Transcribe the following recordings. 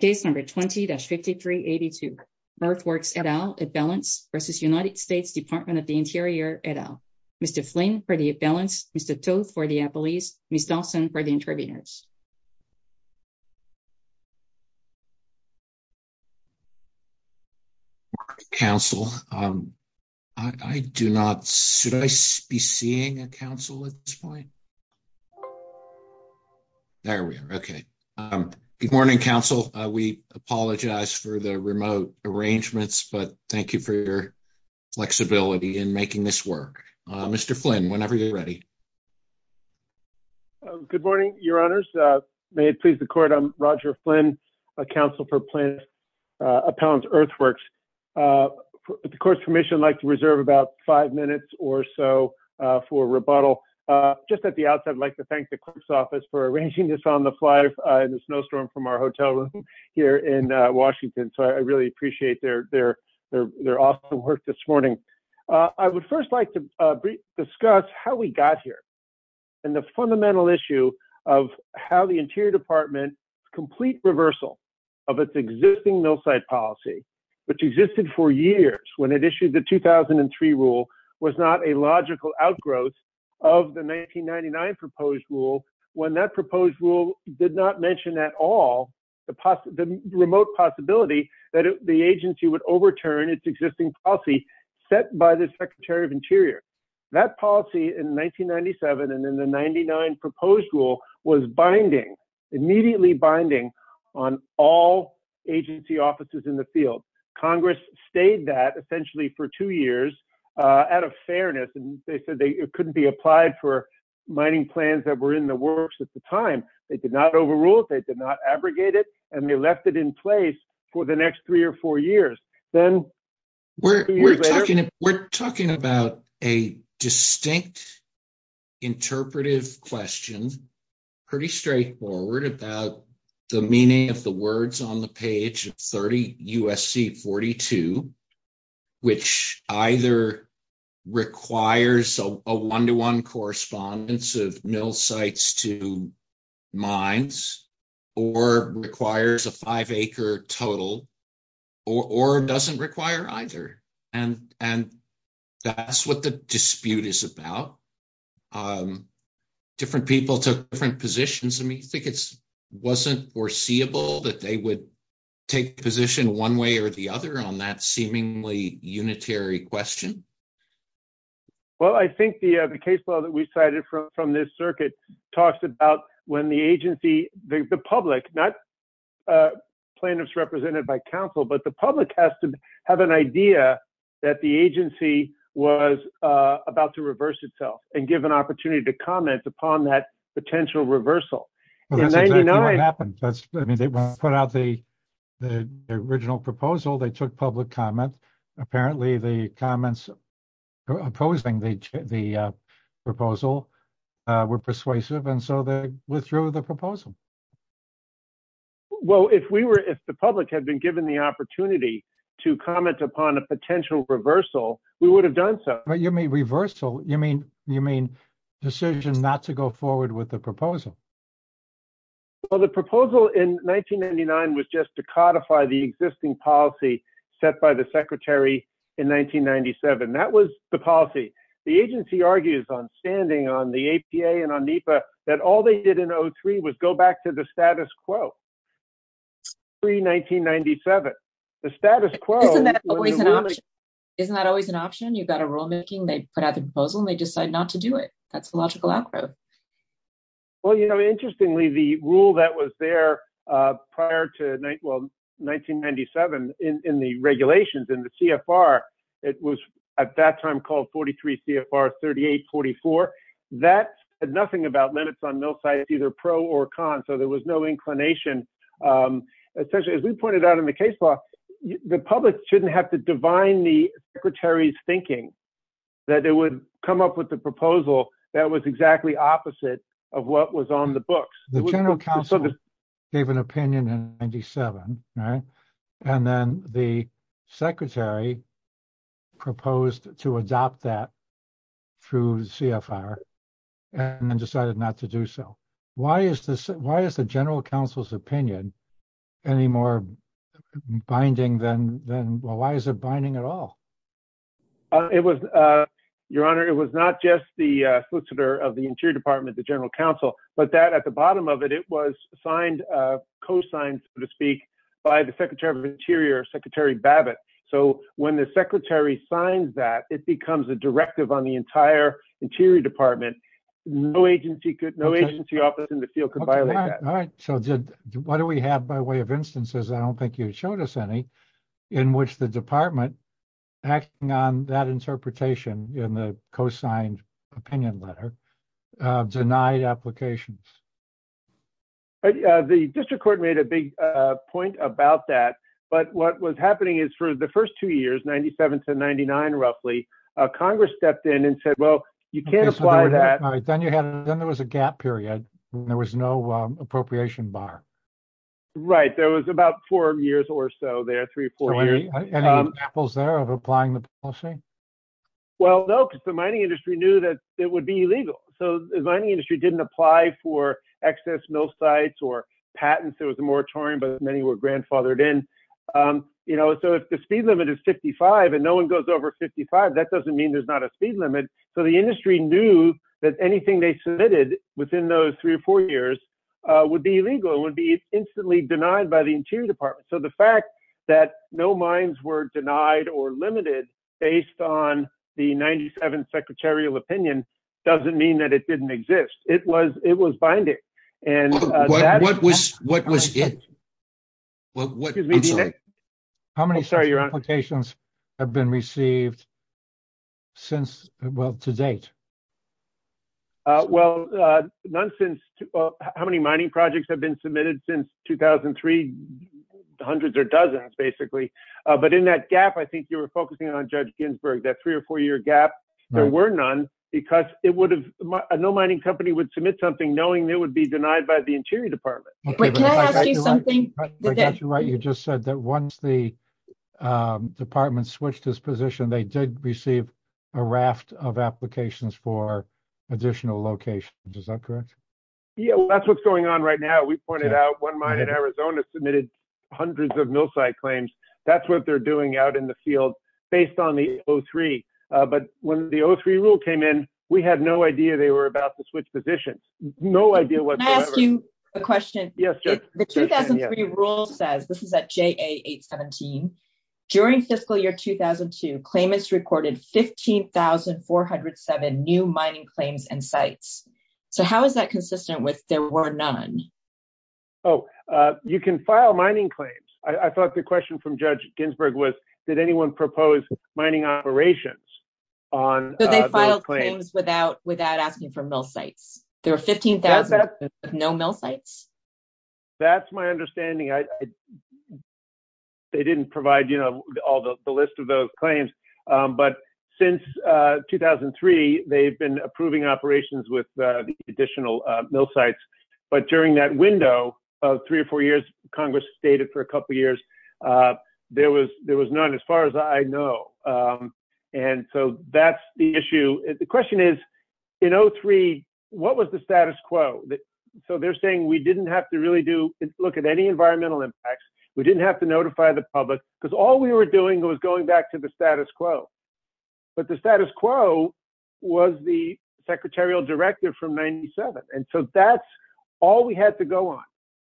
Case number 20-5382, Merck Works, et al., Italy, v. United States, Department of the Interior, et al. Mr. Flynn for the Italy, Mr. Toedt for the Italy, Ms. Dawson for the Intravenous. Council, I do not, should I be seeing a council at this point? There we are, okay. Good morning, Council. We apologize for the remote arrangements, but thank you for your flexibility in making this work. Mr. Flynn, whenever you're ready. Good morning, Your Honors. May it please the Court, I'm Roger Flynn, a counsel for Appellants Earthworks. The Court's Commission would like to reserve about five minutes or so for rebuttal. Just at the outset, I'd like to thank the clerk's office for arranging this on the fly in the snowstorm from our hotel room here in Washington. So I really appreciate their awesome work this morning. I would first like to discuss how we got here and the fundamental issue of how the Interior Department complete reversal of its existing mill site policy, which existed for years when it issued the 2003 rule, was not a logical outgrowth of the 1999 proposed rule when that proposed rule did not mention at all the remote possibility that the agency would overturn its existing policy set by the Secretary of Interior. That policy in 1997 and in the 1999 proposed rule was binding, immediately binding, on all agency offices in the field. Congress stayed that essentially for two years out of fairness, and they said it couldn't be applied for mining plans that were in the works at the time. They did not overrule it, they did not abrogate it, and they left it in place for the next three or four years. We're talking about a distinct interpretive question, pretty straightforward, about the meaning of the words on the page of 30 U.S.C. 42, which either requires a one-to-one correspondence of mill sites to mines or requires a five-acre total or doesn't require either. And that's what the dispute is about. Different people took different positions. I mean, do you think it wasn't foreseeable that they would take position one way or the other on that seemingly unitary question? Well, I think the case law that we cited from this circuit talks about when the agency, the public, not the representatives represented by counsel, but the public has to have an idea that the agency was about to reverse itself and give an opportunity to comment upon that potential reversal. In 1999- That's what happened. I mean, they put out the original proposal, they took public comment. Apparently, the comments opposing the proposal were persuasive, and so they withdrew the proposal. Well, if the public had been given the opportunity to comment upon a potential reversal, we would have done so. But you mean reversal? You mean decision not to go forward with the proposal? Well, the proposal in 1999 was just to codify the existing policy set by the Secretary in 1997. That was the policy. The agency argues on standing on the APA and on NEPA that all they did in 2003 was go back to the status quo. Pre-1997, the status quo- Isn't that always an option? Isn't that always an option? You've got a rulemaking, they put out the proposal, and they decide not to do it. That's the logical outcome. Well, you know, interestingly, the rule that was there prior to 1997 in the regulations in the CFR, it was at that time called 43 CFR 3844. That had nothing about limits on mill size, either pro or con, so there was no inclination. Essentially, as we pointed out in the case law, the public shouldn't have to divine the Secretary's thinking that it would come up with a proposal that was exactly opposite of what was on the books. The general counsel gave an opinion in 97, right? And then the Secretary proposed to adopt that through CFR and then decided not to do so. Why is the general counsel's opinion any more binding than, well, why is it binding at all? It was, Your Honor, it was not just the solicitor of the Interior Department, the general counsel, but that at the bottom of it, it was signed, co-signed, so to speak, by the Secretary of Interior, Secretary Babbitt. So when the Secretary signs that, it becomes a directive on the entire Interior Department. No agency could, no agency office in the field could violate that. All right, so did, what do we have by way of instances, I don't think you showed us any, in which the Department, acting on that interpretation in the co-signed opinion letter, denied applications? The district court made a big point about that, but what was happening is for the first two years, 97 to 99, roughly, Congress stepped in and said, well, you can't apply that. Then there was a gap period. There was no appropriation bar. Right, there was about four years or so there, three or four years. Any examples there of applying the policy? Well, no, because the mining industry knew that it would be illegal. So the mining industry didn't apply for excess mill sites or patents. There was a moratorium, but many were grandfathered in. You know, so if the speed limit is 55 and no one goes over 55, that doesn't mean there's not a speed limit. So the industry knew that anything they submitted within those three or four years would be illegal, would be instantly denied by the Interior Department. So the fact that no mines were denied or limited based on the 97th secretarial opinion doesn't mean that it didn't exist. It was binding. What was it? Excuse me, D.J.? How many applications have been received since, well, to date? Well, how many mining projects have been submitted since 2003? Hundreds or dozens, basically. But in that gap, I think you were focusing on, Judge Ginsburg, that three or four year gap. There were none because no mining company would submit something knowing they would be denied by the Interior Department. I got you right. You just said that once the department switched its position, they did receive a raft of applications for additional locations. Is that correct? Yeah, that's what's going on right now. We pointed out one mine in Arizona submitted hundreds of mill site claims. That's what they're doing out in the field based on the 03. But when the 03 rule came in, we had no idea they were about to switch positions. Can I ask you a question? Yes. The 2003 rule says, this is at JA 817, during fiscal year 2002, claimants recorded 15,407 new mining claims and sites. So how is that consistent with there were none? Oh, you can file mining claims. I thought the question from Judge Ginsburg was, did anyone propose mining operations on those claims? Without asking for mill sites. There are 15,000 sites with no mill sites. That's my understanding. They didn't provide the list of those claims. But since 2003, they've been approving operations with additional mill sites. But during that window of three or four years, Congress stated for a couple of years, there was none as far as I know. And so that's the issue. The question is, in 03, what was the status quo? So they're saying we didn't have to really do look at any environmental impacts. We didn't have to notify the public because all we were doing was going back to the status quo. But the status quo was the secretarial directive from 97. And so that's all we had to go on.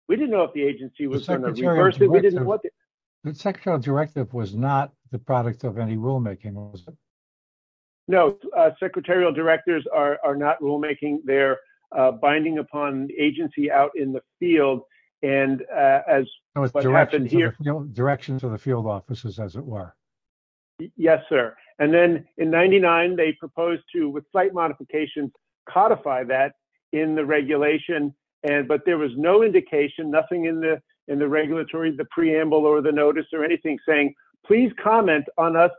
We didn't know if the agency was on the first thing. We didn't want the secretarial directive was not the product of any rulemaking. No, secretarial directors are not rulemaking. They're binding upon agency out in the field. And as what happened here, direction to the field offices, as it were. Yes, sir. And then in 99, they proposed to with slight modifications, codify that in the regulation. And but there was no indication, nothing in the in the regulatory, the preamble or the notice or anything saying, please comment on us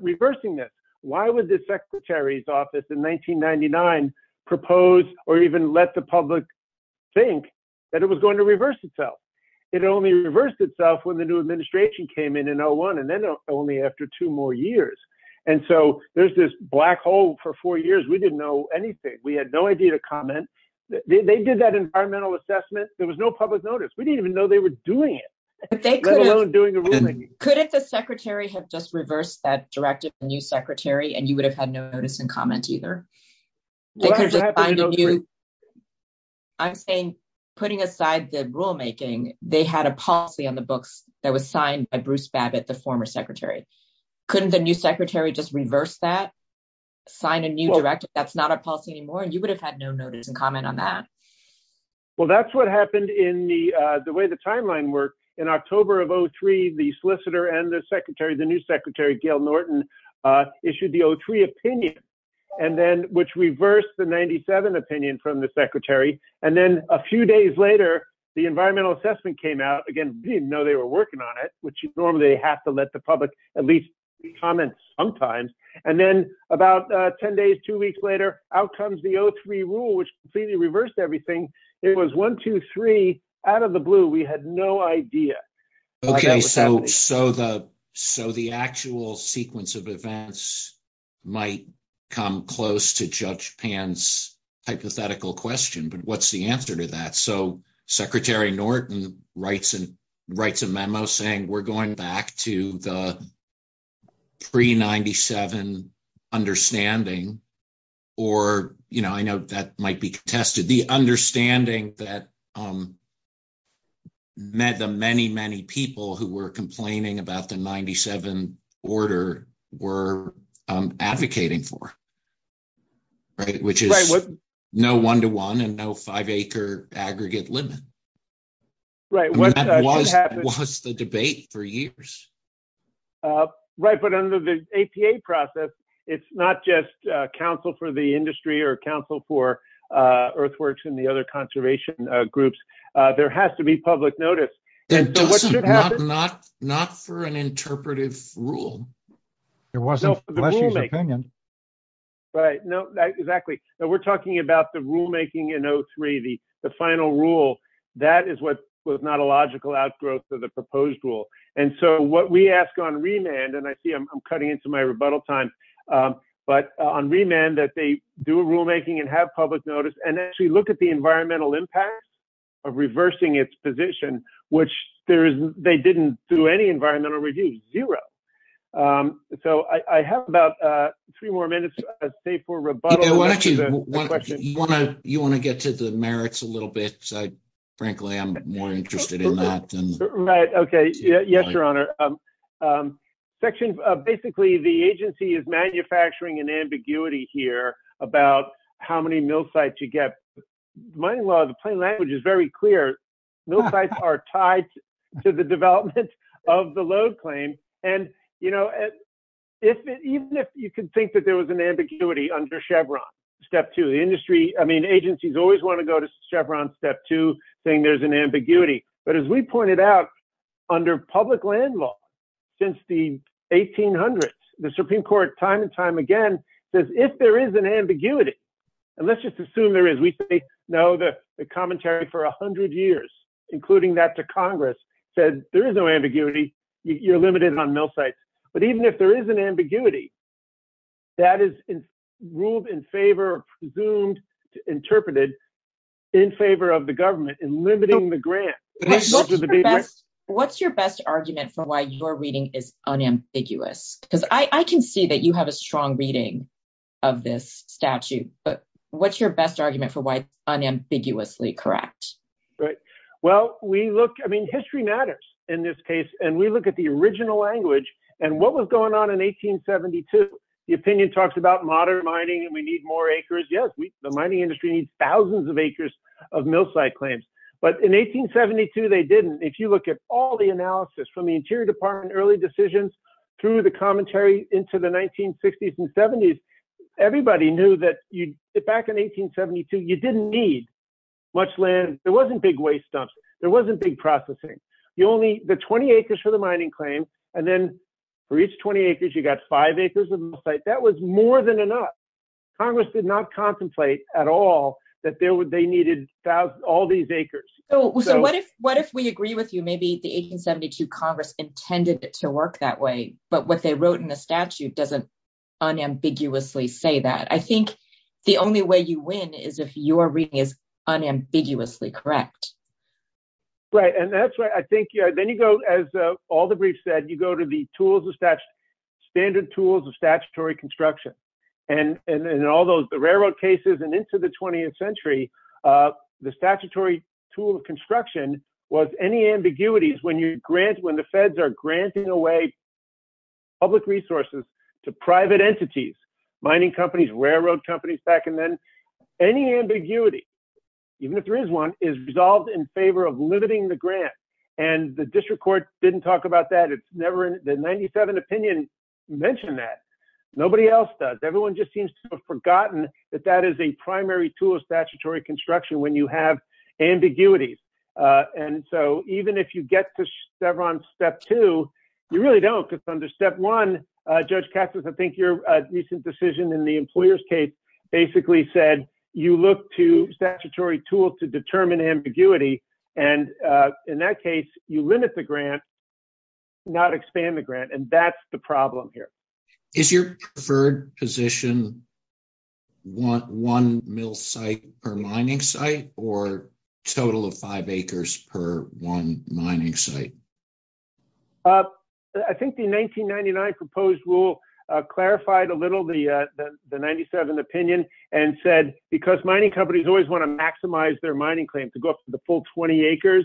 reversing this. Why would the secretary's office in 1999 propose or even let the public think that it was going to reverse itself? It only reversed itself when the new administration came in and no one and then only after two more years. And so there's this black hole for four years. We didn't know anything. We had no idea to comment. They did that environmental assessment. There was no public notice. We didn't even know they were doing it. They don't do anything. Could the secretary have just reversed that directive? The new secretary and you would have had no notice and comment either. I'm saying putting aside the rulemaking, they had a policy on the books that was signed by Bruce Babbitt, the former secretary. Couldn't the new secretary just reverse that sign a new directive? That's not a policy anymore. And you would have had no notice and comment on that. Well, that's what happened in the way the timeline worked in October of 03. The solicitor and the secretary, the new secretary, Gail Norton, issued the 03 opinion and then which reversed the 97 opinion from the secretary. And then a few days later, the environmental assessment came out again. You know, they were working on it, which you normally have to let the public at least comment sometimes. And then about 10 days, two weeks later, outcomes, the 03 rule, which completely reversed everything. It was one, two, three out of the blue. We had no idea. So the so the actual sequence of events might come close to Judge Pan's hypothetical question. But what's the answer to that? So Secretary Norton writes and writes a memo saying we're going back to the pre 97 understanding. Or, you know, I know that might be tested. The understanding that. Met the many, many people who were complaining about the 97 order were advocating for. Right. Which is no one to one and no five acre aggregate limit. Right. What happened was the debate for years. Right. But under the APA process, it's not just counsel for the industry or counsel for earthworks and the other conservation groups. There has to be public notice. Not not not for an interpretive rule. There wasn't an opinion. Right. No, exactly. We're talking about the rulemaking, you know, three, the final rule. That is what was not a logical outgrowth to the proposed rule. And so what we ask on remand and I see I'm cutting into my rebuttal time. But on remand that they do a rulemaking and have public notice and actually look at the environmental impact of reversing its position, which there is. They didn't do any environmental review. Zero. So I have about three more minutes. I'd say for rebuttal. You want to you want to get to the merits a little bit. Frankly, I'm more interested in that. Right. OK. Yes, Your Honor. Section. Basically, the agency is manufacturing an ambiguity here about how many mill sites you get. The plain language is very clear. Mill sites are tied to the development of the load claim. And, you know, if even if you can think that there was an ambiguity under Chevron step to the industry. I mean, agencies always want to go to Chevron step to saying there's an ambiguity. But as we pointed out under public land law since the 1800s, the Supreme Court time and time again. If there is an ambiguity and let's just assume there is, we know the commentary for 100 years, including that to Congress said there is no ambiguity. You're limited on mill sites. But even if there is an ambiguity. That is ruled in favor of presumed interpreted in favor of the government and limiting the grant. What's your best argument for why your reading is unambiguous? Because I can see that you have a strong reading of this statute. But what's your best argument for why unambiguously correct? Well, we look, I mean, history matters in this case. And we look at the original language and what was going on in 1872. The opinion talks about modern mining. We need more acres. Yes. The mining industry needs thousands of acres of mill site claims. But in 1872, they didn't. If you look at all the analysis from the Interior Department, early decisions through the commentary into the 1960s and 70s, everybody knew that back in 1872, you didn't need much land. There wasn't big waste dumps. There wasn't big processing. You only the 20 acres for the mining claim. And then for each 20 acres, you got five acres of mill site. That was more than enough. Congress did not contemplate at all that they needed all these acres. So what if we agree with you? Maybe the 1872 Congress intended it to work that way. But what they wrote in the statute doesn't unambiguously say that. I think the only way you win is if your reading is unambiguously correct. Right. And that's what I think. Then you go, as all the briefs said, you go to the tools of statute, standard tools of statutory construction. And in all those railroad cases and into the 20th century, the statutory tool of construction was any ambiguities when you grant, when the feds are granting away public resources to private entities, mining companies, railroad companies, any ambiguity, even if there is one, is resolved in favor of limiting the grant. And the district court didn't talk about that. It's never in the 97 opinion mentioned that. Nobody else does. Everyone just seems to have forgotten that that is a primary tool of statutory construction when you have ambiguity. And so even if you get to step on step two, you really don't. It's under step one. Judge Cassis, I think your recent decision in the employer's case basically said you look to statutory tools to determine ambiguity. And in that case, you limit the grant. Not expand the grant. And that's the problem here is your preferred position. Want one mill site or mining site or total of five acres per one mining site? I think the 1999 proposed rule clarified a little the 97 opinion and said because mining companies always want to maximize their mining claims to go up to the full 20 acres.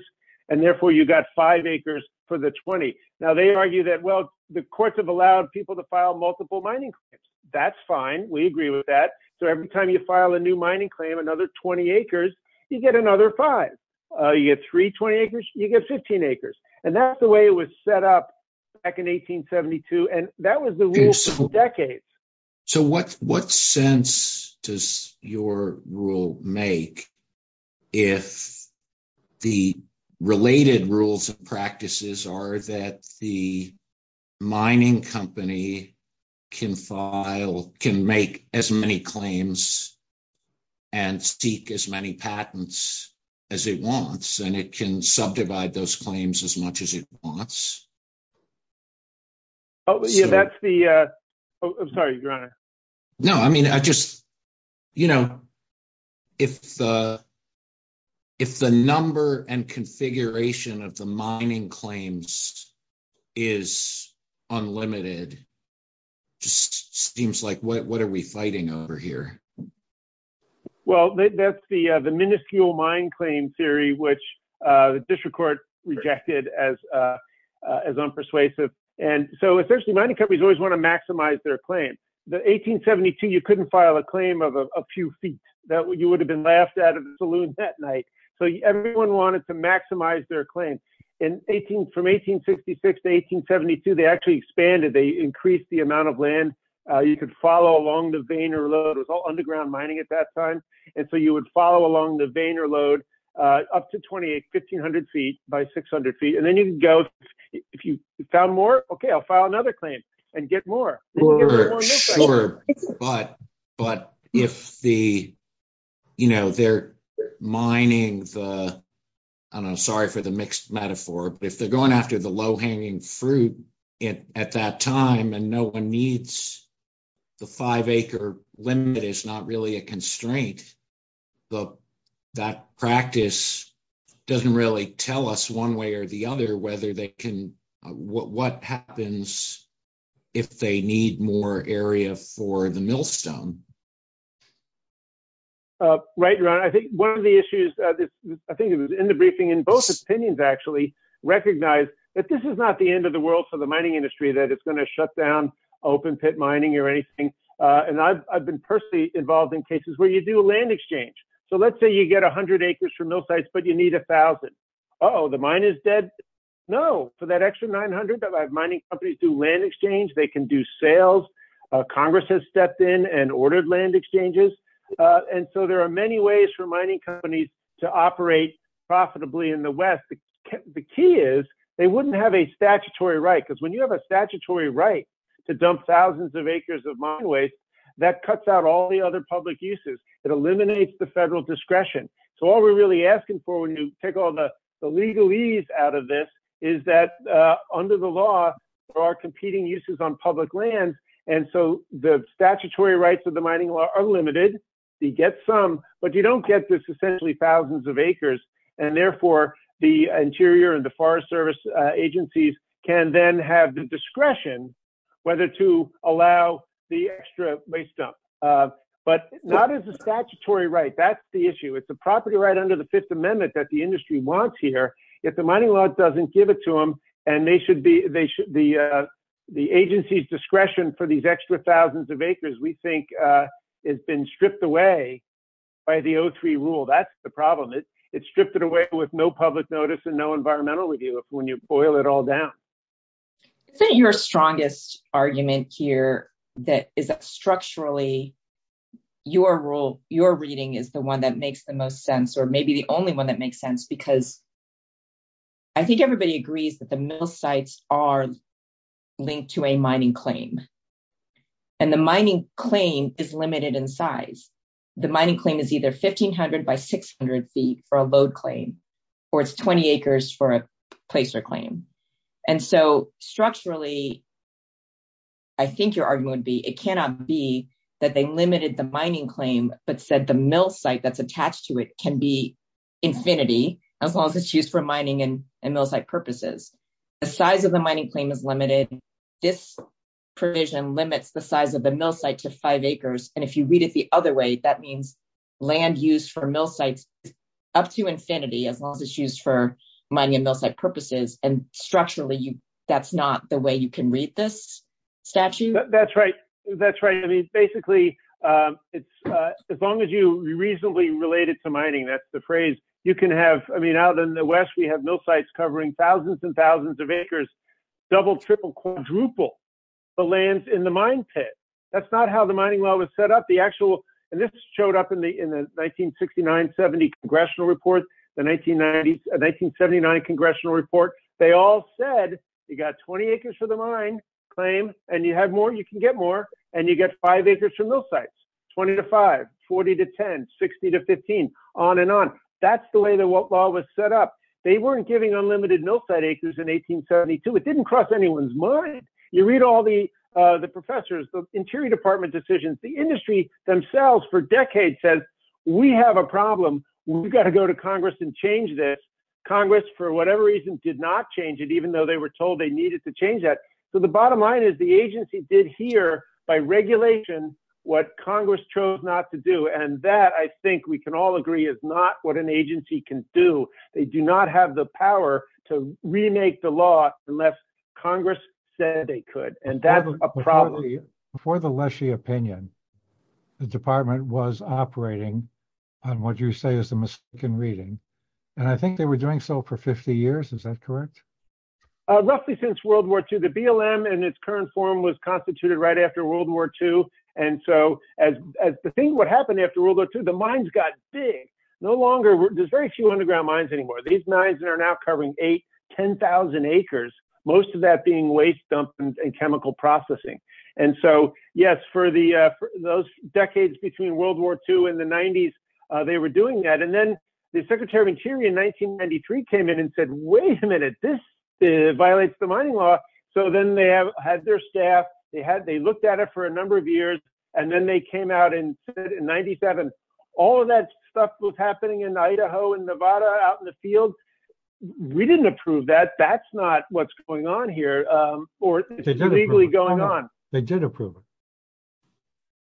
And therefore, you got five acres for the 20. Now, they argue that, well, the courts have allowed people to file multiple mining claims. That's fine. We agree with that. So every time you file a new mining claim, another 20 acres, you get another five. You get three 20 acres, you get 15 acres. And that's the way it was set up back in 1872. And that was the rule for decades. So what sense does your rule make if the related rules and practices are that the mining company can file, can make as many claims and seek as many patents as it wants and it can subdivide those claims as much as it wants? Oh, yeah, that's the I'm sorry. No, I mean, I just, you know, if if the number and configuration of the mining claims is unlimited, just seems like what are we fighting over here? Well, that's the the minuscule mine claim theory, which the district court rejected as as unpersuasive. And so essentially, mining companies always want to maximize their claim. The 1872, you couldn't file a claim of a few feet that you would have been laughed out of the saloon that night. So everyone wanted to maximize their claim in 18, from 1866 to 1872, they actually expanded, they increased the amount of land you could follow along the vein or load of all underground mining at that time. And so you would follow along the vein or load up to 28, 1500 feet by 600 feet. And then you can go if you found more. Okay, I'll file another claim and get more. Sure, but, but if the, you know, they're mining the, I'm sorry for the mixed metaphor, if they're going after the low hanging fruit at that time, and no one needs the 5 acre limit is not really a constraint. But that practice doesn't really tell us one way or the other, whether they can, what happens if they need more area for the millstone. Right, right. I think one of the issues that I think it was in the briefing in both opinions actually recognize that this is not the end of the world for the mining industry that it's going to shut down open pit mining or anything. And I've been personally involved in cases where you do a land exchange. So let's say you get 100 acres for mill sites, but you need 1000. Oh, the mine is dead. No, for that extra 900, mining companies do land exchange, they can do sales. Congress has stepped in and ordered land exchanges. And so there are many ways for mining companies to operate profitably in the West. The key is, they wouldn't have a statutory right, because when you have a statutory right to dump thousands of acres of mine waste, that cuts out all the other public uses. It eliminates the federal discretion. So all we're really asking for when you take all the legalese out of this is that under the law, there are competing uses on public land. And so the statutory rights of the mining law are limited. You get some, but you don't get this essentially thousands of acres. And therefore, the Interior and the Forest Service agencies can then have the discretion whether to allow the extra waste dump. But not as a statutory right. That's the issue. It's the property right under the Fifth Amendment that the industry wants here. If the mining law doesn't give it to them, and they should be, the agency's discretion for these extra thousands of acres, we think, has been stripped away by the 03 rule. That's the problem. It's stripped it away with no public notice and no environmental review when you boil it all down. I think your strongest argument here that is structurally your reading is the one that makes the most sense, or maybe the only one that makes sense, because I think everybody agrees that the mill sites are linked to a mining claim. And the mining claim is limited in size. The mining claim is either 1,500 by 600 feet for a load claim, or it's 20 acres for a placer claim. And so structurally, I think your argument would be, it cannot be that they limited the mining claim, but said the mill site that's attached to it can be infinity, as long as it's used for mining and mill site purposes. The size of the mining claim is limited. This provision limits the size of the mill site to five acres. And if you read it the other way, that means land use for mill sites up to infinity, as long as it's used for mining and mill site purposes. And structurally, that's not the way you can read this statute? That's right. That's right. I mean, basically, as long as you reasonably relate it to mining, that's the phrase you can have. I mean, out in the West, we have mill sites covering thousands and thousands of acres, double, triple, quadruple the lands in the mine pit. That's not how the mining well was set up. The actual, and this showed up in the 1969-70 congressional report, the 1979 congressional report. They all said, you got 20 acres for the mine claim, and you have more, you can get more, and you get five acres for mill sites, 20 to five, 40 to 10, 60 to 15, on and on. That's the way the well was set up. They weren't giving unlimited mill site acres in 1872. It didn't cross anyone's mind. You read all the professors, the Interior Department decisions, the industry themselves for decades said, we have a problem. We've got to go to Congress and change this. Congress, for whatever reason, did not change it, even though they were told they needed to change that. The bottom line is the agency did hear by regulation what Congress chose not to do, and that, I think we can all agree, is not what an agency can do. They do not have the power to remake the law unless Congress said they could, and that's a problem. Before the Leshey opinion, the department was operating on what you say is the Muskegon reading, and I think they were doing so for 50 years. Is that correct? Roughly since World War II, the BLM in its current form was constituted right after World War II, and so as the thing that happened after World War II, the mines got big. There's very few underground mines anymore. These mines are now covering 8,000, 10,000 acres, most of that being waste dumps and chemical processing. Yes, for those decades between World War II and the 90s, they were doing that, and then the Secretary of Interior in 1993 came in and said, wait a minute, this violates the mining law, so then they had their staff. They looked at it for a number of years, and then they came out and said in 97, all of that stuff was happening in Idaho and Nevada out in the field. We didn't approve that. That's not what's going on here, or it's legally going on. They did approve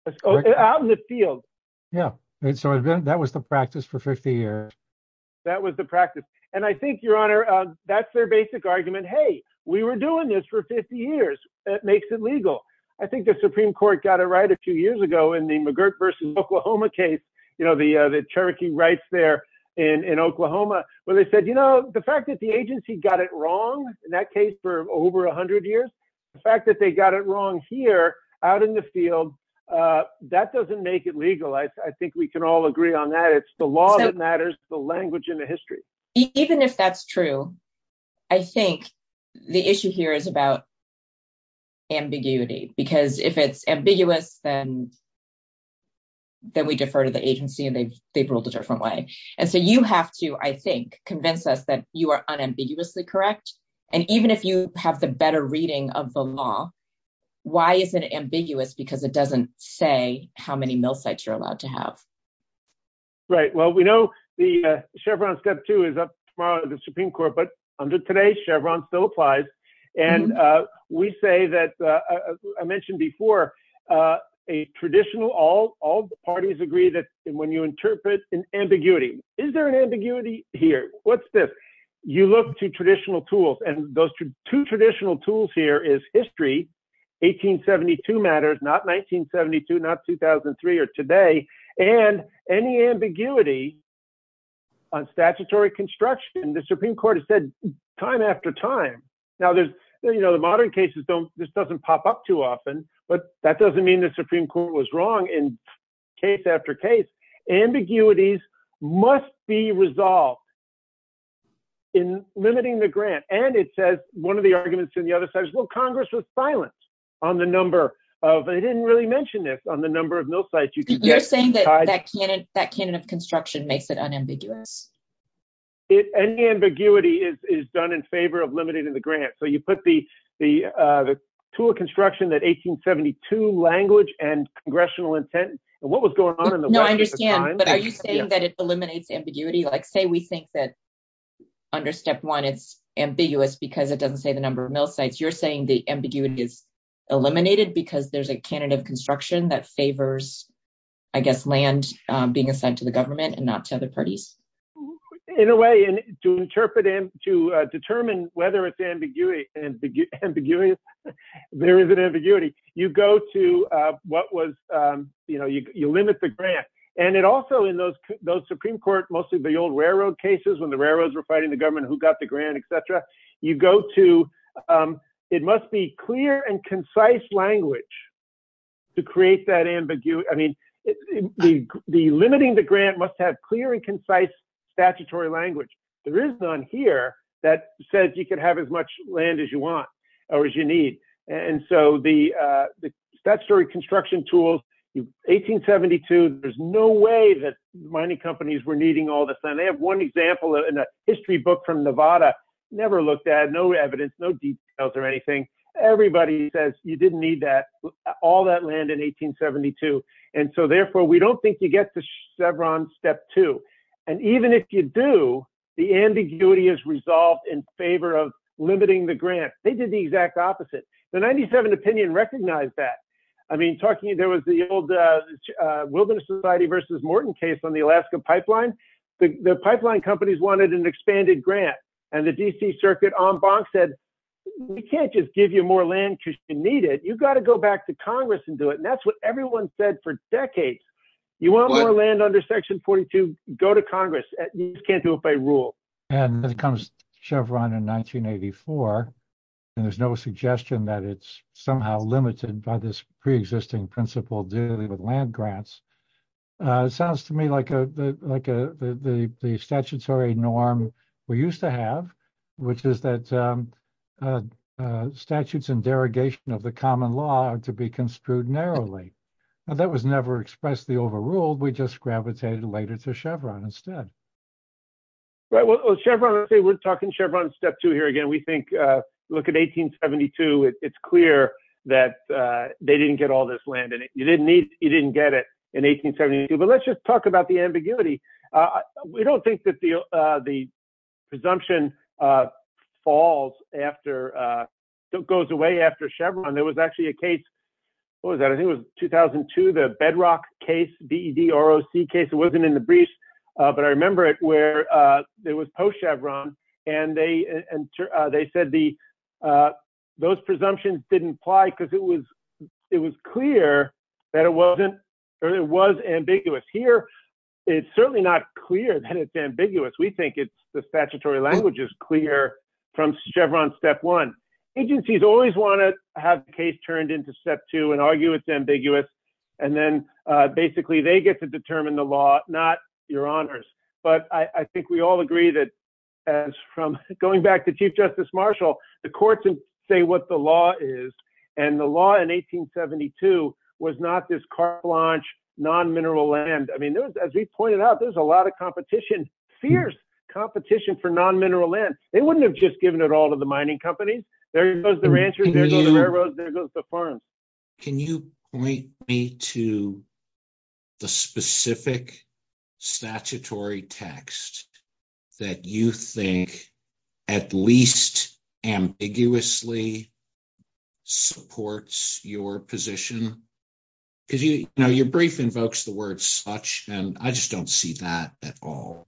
it. Out in the field. Yeah, so that was the practice for 50 years. That was the practice, and I think, Your Honor, that's their basic argument. Hey, we were doing this for 50 years. That makes it legal. I think the Supreme Court got it right a few years ago in the McGirt v. Oklahoma case, you know, the Cherokee rights there in Oklahoma, where they said, you know, the fact that the agency got it wrong in that case for over 100 years, the fact that they got it wrong here out in the field, that doesn't make it legal. I think we can all agree on that. It's the law that matters, the language and the history. Even if that's true, I think the issue here is about ambiguity, because if it's ambiguous, then we defer to the agency, and they've ruled a different way. And so you have to, I think, convince us that you are unambiguously correct. And even if you have the better reading of the law, why is it ambiguous? Because it doesn't say how many mill sites you're allowed to have. Right. Well, we know the Chevron Step 2 is up tomorrow at the Supreme Court, but under today's Chevron, still applies. And we say that, as I mentioned before, a traditional, all parties agree that when you interpret an ambiguity, is there an ambiguity here? You look to traditional tools, and those two traditional tools here is history, 1872 matters, not 1972, not 2003 or today. And any ambiguity on statutory construction, the Supreme Court has said time after time. Now there's, you know, the modern cases don't, this doesn't pop up too often, but that doesn't mean the Supreme Court was wrong in case after case. Ambiguities must be resolved in limiting the grant. And it says, one of the arguments on the other side is, well, Congress was silent on the number of, they didn't really mention this, on the number of mill sites you could get. You're saying that that canon of construction makes it unambiguous. Any ambiguity is done in favor of limiting the grant. So you put the tool of construction, that 1872 language, and congressional intent, and what was going on in the West at the time? But are you saying that it eliminates ambiguity? Like, say we think that under step one, it's ambiguous because it doesn't say the number of mill sites. You're saying the ambiguity is eliminated because there's a canon of construction that favors, I guess, land being assigned to the government and not to other parties? In a way, to determine whether it's ambiguity, there is an ambiguity. You go to what was, you know, you limit the grant. And it also, in those Supreme Court, mostly the old railroad cases when the railroads were fighting the government who got the grant, etc., you go to, it must be clear and concise language to create that ambiguity. I mean, limiting the grant must have clear and concise statutory language. There is none here that says you can have as much land as you want or as you need. And so the statutory construction tools, 1872, there's no way that mining companies were needing all this. And they have one example in a history book from Nevada, never looked at, no evidence, no details or anything. Everybody says you didn't need that, all that land in 1872. And so therefore, we don't think you get to Chevron step two. And even if you do, the ambiguity is resolved in favor of limiting the grant. They did the exact opposite. The 97 opinion recognized that. I mean, talking, there was the old Wilderness Society versus Morton case on the Alaska pipeline. The pipeline companies wanted an expanded grant. And the DC Circuit en banc said, we can't just give you more land because you need it. You've got to go back to Congress and do it. And that's what everyone said for decades. You want more land under Section 42, go to Congress. You can't do it by rule. And then comes Chevron in 1984, and there's no suggestion that it's somehow limited by this preexisting principle dealing with land grants. It sounds to me like the statutory norm we used to have, which is that statutes and derogation of the common law are to be construed narrowly. That was never expressly overruled. We just gravitated later to Chevron instead. Well, Chevron, we're talking Chevron step two here again. We think, look at 1872. It's clear that they didn't get all this land. And you didn't get it in 1872. But let's just talk about the ambiguity. We don't think that the presumption falls after, goes away after Chevron. There was actually a case, what was that, I think it was 2002, the Bedrock case, B-E-D-R-O-C case. It wasn't in the briefs, but I remember it where it was post-Chevron, and they said those presumptions didn't apply because it was clear that it was ambiguous. Here, it's certainly not clear that it's ambiguous. We think the statutory language is clear from Chevron step one. Agencies always want to have the case turned into step two and argue it's ambiguous, and then basically they get to determine the law, not your honors. But I think we all agree that, going back to Chief Justice Marshall, the courts say what the law is, and the law in 1872 was not this car launch, non-mineral land. I mean, as he pointed out, there's a lot of competition, fierce competition for non-mineral land. They wouldn't have just given it all to the mining company. There goes the ranchers, there goes the railroad, there goes the farms. Can you point me to the specific statutory text that you think at least ambiguously supports your position? Because your brief invokes the word such, and I just don't see that at all.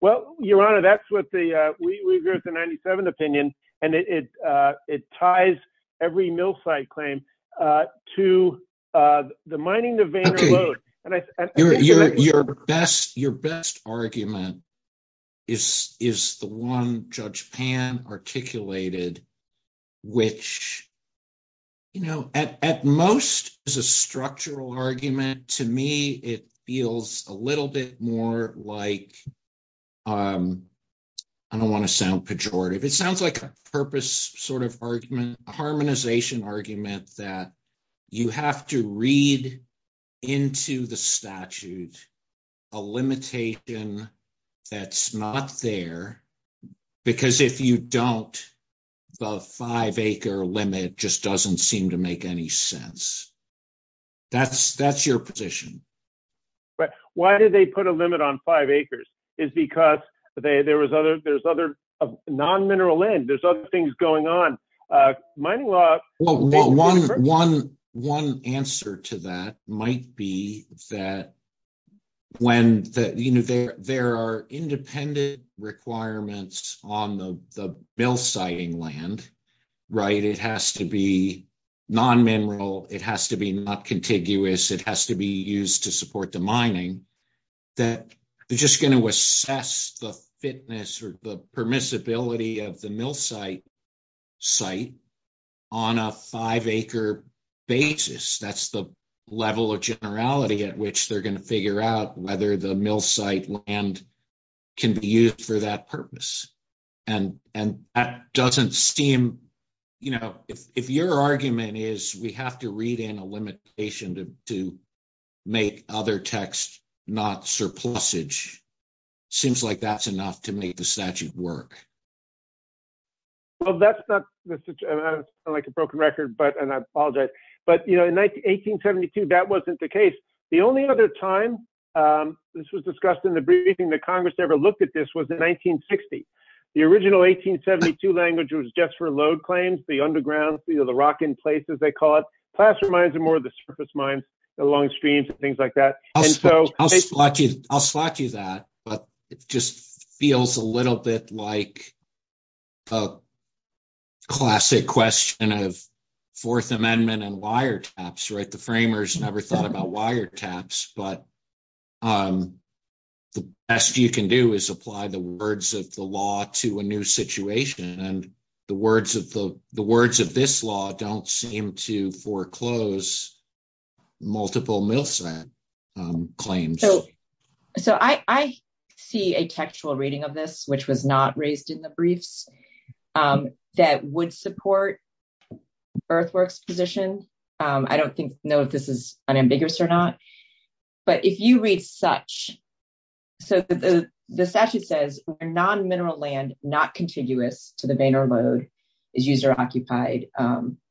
Well, your honor, that's what the – there's the 97th opinion, and it ties every mill site claim to the mining of Vayner Loathe. Your best argument is the one Judge Pan articulated, which at most is a structural argument. To me, it feels a little bit more like – I don't want to sound pejorative. It sounds like a purpose sort of argument, a harmonization argument that you have to read into the statute a limitation that's not there, because if you don't, the five-acre limit just doesn't seem to make any sense. That's your position. Why did they put a limit on five acres? It's because there's other non-mineral land. There's other things going on. Mining law – One answer to that might be that when – there are independent requirements on the mill siting land. It has to be non-mineral. It has to be not contiguous. It has to be used to support the mining. They're just going to assess the fitness or the permissibility of the mill site site on a five-acre basis. That's the level of generality at which they're going to figure out whether the mill site land can be used for that purpose. That doesn't seem – if your argument is we have to read in a limitation to make other text not surplusage, it seems like that's enough to make the statute work. That's not a broken record, and I apologize. In 1872, that wasn't the case. The only other time this was discussed in the briefing that Congress ever looked at this was in 1960. The original 1872 language was just for load claims, the underground, the rock-in-places, they call it. Plaster mines are more the surface mines, the long streams and things like that. I'll slap you that, but it just feels a little bit like a classic question of Fourth Amendment and wiretaps. The framers never thought about wiretaps, but the best you can do is apply the words of the law to a new situation. The words of this law don't seem to foreclose multiple mill site claims. I see a textual reading of this, which was not raised in the briefs, that would support Earthworks' position. I don't know if this is unambiguous or not. The statute says, non-mineral land not contiguous to the vein or load is used or occupied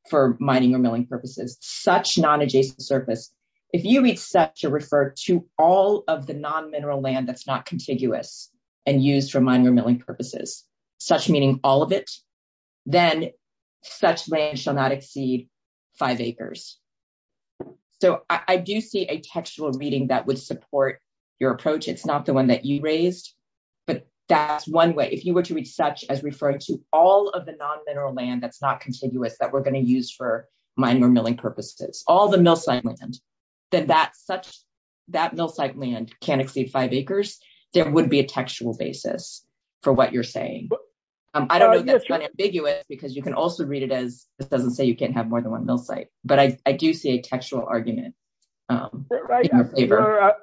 for mining or milling purposes, such non-adjacent surface. If you accept to refer to all of the non-mineral land that's not contiguous and used for mining or milling purposes, such meaning all of it, then such land shall not exceed five acres. I do see a textual reading that would support your approach. It's not the one that you raised, but that's one way. If you were to read such as referring to all of the non-mineral land that's not contiguous that we're going to use for mining or milling purposes, all the mill site land, then that mill site land can't exceed five acres, there would be a textual basis for what you're saying. I don't know if that's unambiguous, because you can also read it as, this doesn't say you can't have more than one mill site. But I do see a textual argument in our favor.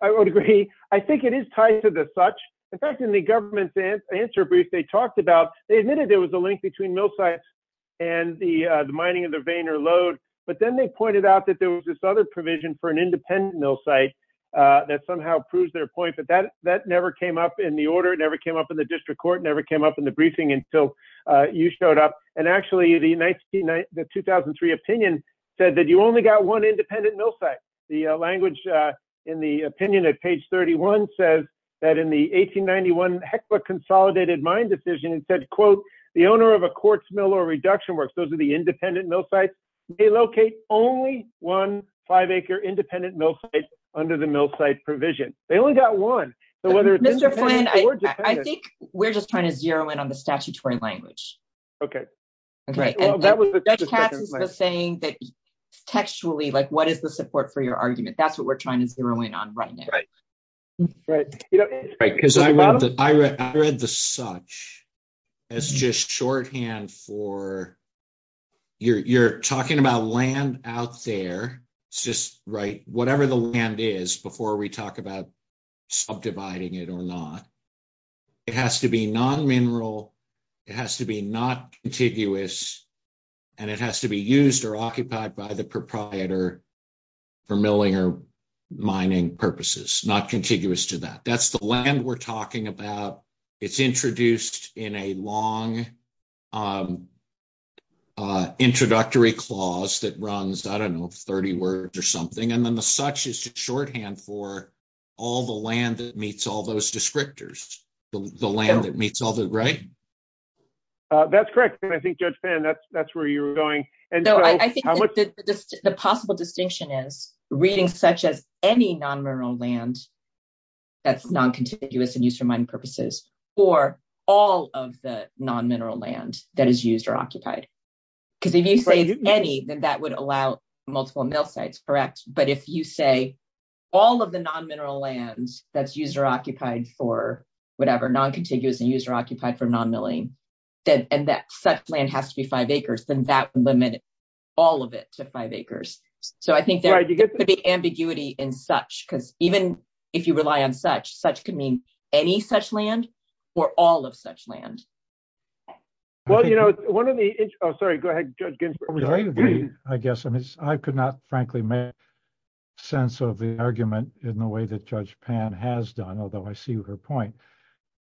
I would agree. I think it is tied to the such. In fact, in the government's answer brief they talked about, they admitted there was a link between mill sites and the mining of the vein or load. But then they pointed out that there was this other provision for an independent mill site that somehow proves their point, but that never came up in the order, never came up in the district court, never came up in the briefing until you showed up. And actually the 2003 opinion said that you only got one independent mill site. The language in the opinion at page 31 says that in the 1891 HECLA consolidated mine decision, it said, quote, the owner of a quartz mill or reduction works, those are the independent mill sites, they locate only one five acre independent mill site under the mill site provision. They only got one. I think we're just trying to zero in on the statutory language. Okay. Right. That's the thing that textually, like, what is the support for your argument? That's what we're trying to zero in on right now. Right. Because I read the such as just shorthand for you're talking about land out there. It's just right, whatever the land is, before we talk about subdividing it or not. It has to be non-mineral, it has to be not contiguous, and it has to be used or occupied by the proprietor for milling or mining purposes, not contiguous to that. That's the land we're talking about. It's introduced in a long introductory clause that runs, I don't know, 30 words or something. And then the such is just shorthand for all the land that meets all those descriptors. The land that meets all those, right? That's correct. I think Judge Fan, that's where you were going. The possible distinction is reading such as any non-mineral land that's non-contiguous and used for mining purposes for all of the non-mineral land that is used or occupied. Because if you say any, then that would allow multiple mill sites, correct? But if you say all of the non-mineral lands that's used or occupied for whatever, non-contiguous and used or occupied for non-milling, and that such land has to be five acres, then that would limit all of it to five acres. So I think there could be ambiguity in such, because even if you rely on such, such could mean any such land or all of such land. Well, you know, one of the, oh, sorry, go ahead, Judge Ginsburg. I guess, I mean, I could not frankly make sense of the argument in the way that Judge Fan has done, although I see her point.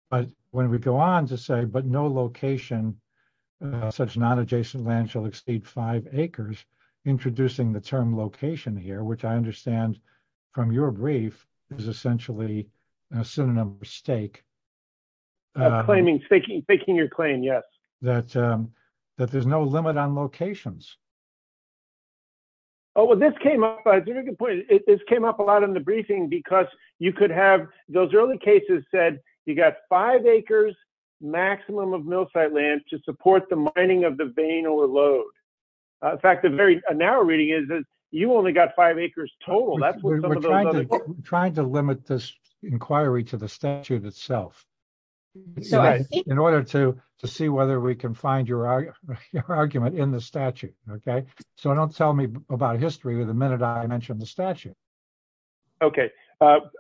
But when we go on to say, but no location, such non-adjacent land shall exceed five acres, introducing the term location here, which I understand from your brief is essentially a synonym of stake. Claiming, faking your claim, yes. That there's no limit on locations. Oh, well, this came up, it came up a lot in the briefing because you could have, those early cases said you got five acres maximum of mill site land to support the mining of the vein or load. In fact, a very narrow reading is that you only got five acres total. We're trying to limit this inquiry to the statute itself in order to see whether we can find your argument in the statute. Okay, so don't tell me about history the minute I mentioned the statute. Okay, fair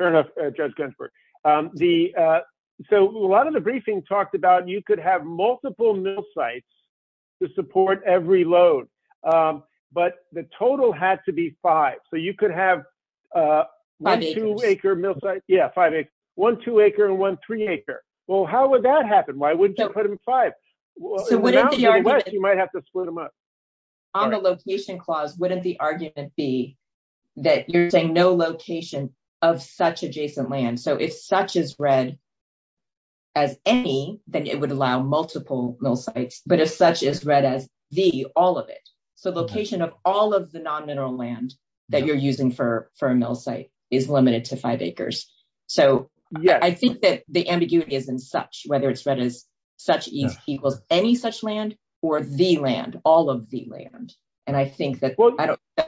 enough, Judge Ginsburg. So, a lot of the briefing talked about you could have multiple mill sites to support every load, but the total had to be five. So, you could have one two-acre mill site, yeah, five acres. One two-acre and one three-acre. Well, how would that happen? Why wouldn't you put them in five? You might have to split them up. On the location clause, wouldn't the argument be that you're saying no location of such adjacent land? So, if such is read as any, then it would allow multiple mill sites, but if such is read as the, all of it. So, location of all of the non-mineral land that you're using for a mill site is limited to five acres. So, I think that the ambiguity is in such, whether it's read as such equals any such land or the land, all of the land. And I think that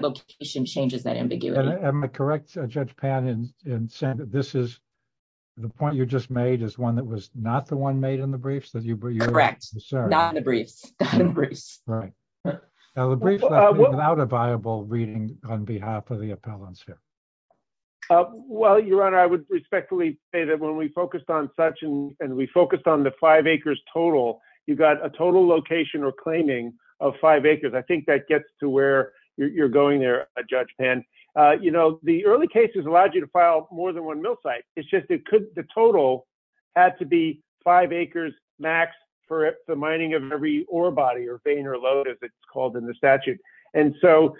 location changes that ambiguity. Am I correct, Judge Pan, in saying that this is, the point you just made is one that was not the one made in the briefs? Correct. Not in the briefs. Not in the briefs. Right. Now, the brief is not a viable reading on behalf of the appellants here. Well, Your Honor, I would respectfully say that when we focused on such and we focused on the five acres total, you've got a total location or claiming of five acres. I think that gets to where you're going there, Judge Pan. You know, the early cases allowed you to file more than one mill site. It's just the total had to be five acres max for the mining of every ore body or vein or load, as it's called in the statute. And so,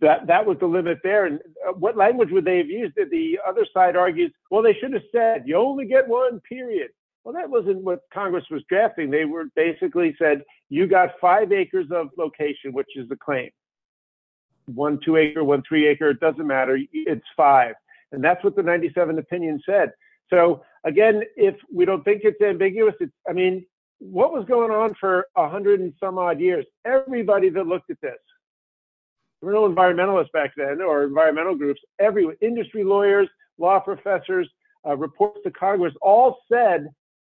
that was the limit there. And what language would they have used if the other side argued, well, they should have said, you only get one, period. Well, that wasn't what Congress was drafting. They basically said, you got five acres of location, which is the claim. One, two acre, one, three acre, it doesn't matter. It's five. And that's what the 97 opinion said. So, again, we don't think it's ambiguous. I mean, what was going on for 100 and some odd years? Everybody that looked at this, real environmentalists back then or environmental groups, industry lawyers, law professors, reports to Congress all said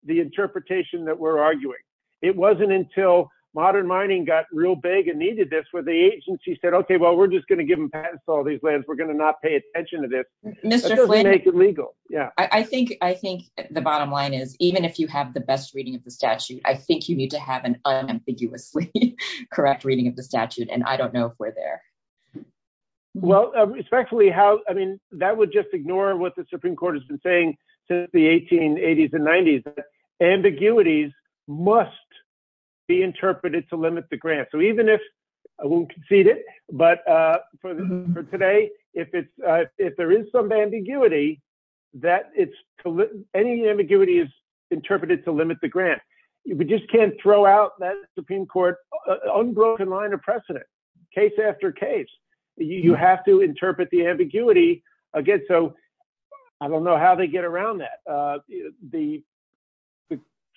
the interpretation that we're arguing. It wasn't until modern mining got real big and needed this, where the agency said, okay, well, we're just going to give them patents to all these lands. We're going to not pay attention to this. It doesn't make it legal. Yeah. I think the bottom line is, even if you have the best reading of the statute, I think you need to have an unambiguously correct reading of the statute. And I don't know if we're there. Well, respectfully, that would just ignore what the Supreme Court has been saying since the 1880s and 90s. Ambiguities must be interpreted to limit the grant. So even if we'll concede it, but for today, if there is some ambiguity, any ambiguity is interpreted to limit the grant. We just can't throw out that Supreme Court unbroken line of precedent. Case after case, you have to interpret the ambiguity. Again, so I don't know how they get around that. The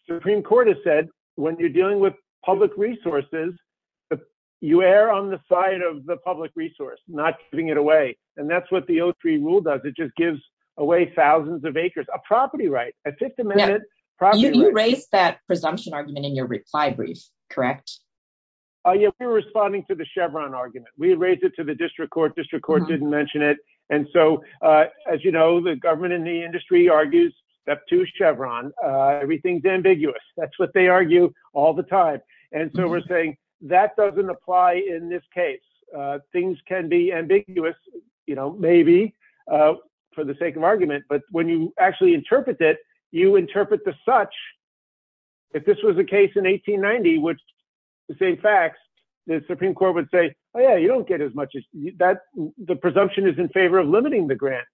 Supreme Court has said when you're dealing with public resources, you err on the side of the public resource, not giving it away. And that's what the O3 rule does. It just gives away thousands of acres, a property right, a 50 minute property right. You raised that presumption argument in your reply brief, correct? We're responding to the Chevron argument. We raised it to the district court. District court didn't mention it. And so, as you know, the government in the industry argues that to Chevron, everything's ambiguous. That's what they argue all the time. And so we're saying that doesn't apply in this case. Things can be ambiguous, you know, maybe for the sake of argument. But when you actually interpret it, you interpret the such. If this was the case in 1890, which the same facts, the Supreme Court would say, oh, yeah, you don't get as much. The presumption is in favor of limiting the grant.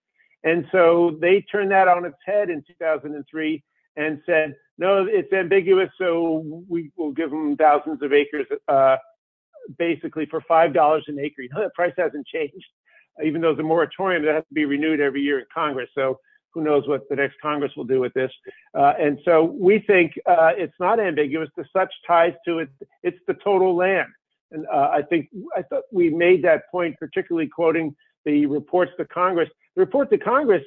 And so they turn that on its head in 2003 and said, no, it's ambiguous. So we will give them thousands of acres, basically, for $5 an acre. The price hasn't changed. Even though the moratorium has to be renewed every year in Congress. So who knows what the next Congress will do with this? And so we think it's not ambiguous. The such ties to it. It's the total land. And I think we've made that point, particularly quoting the reports to Congress. The report to Congress,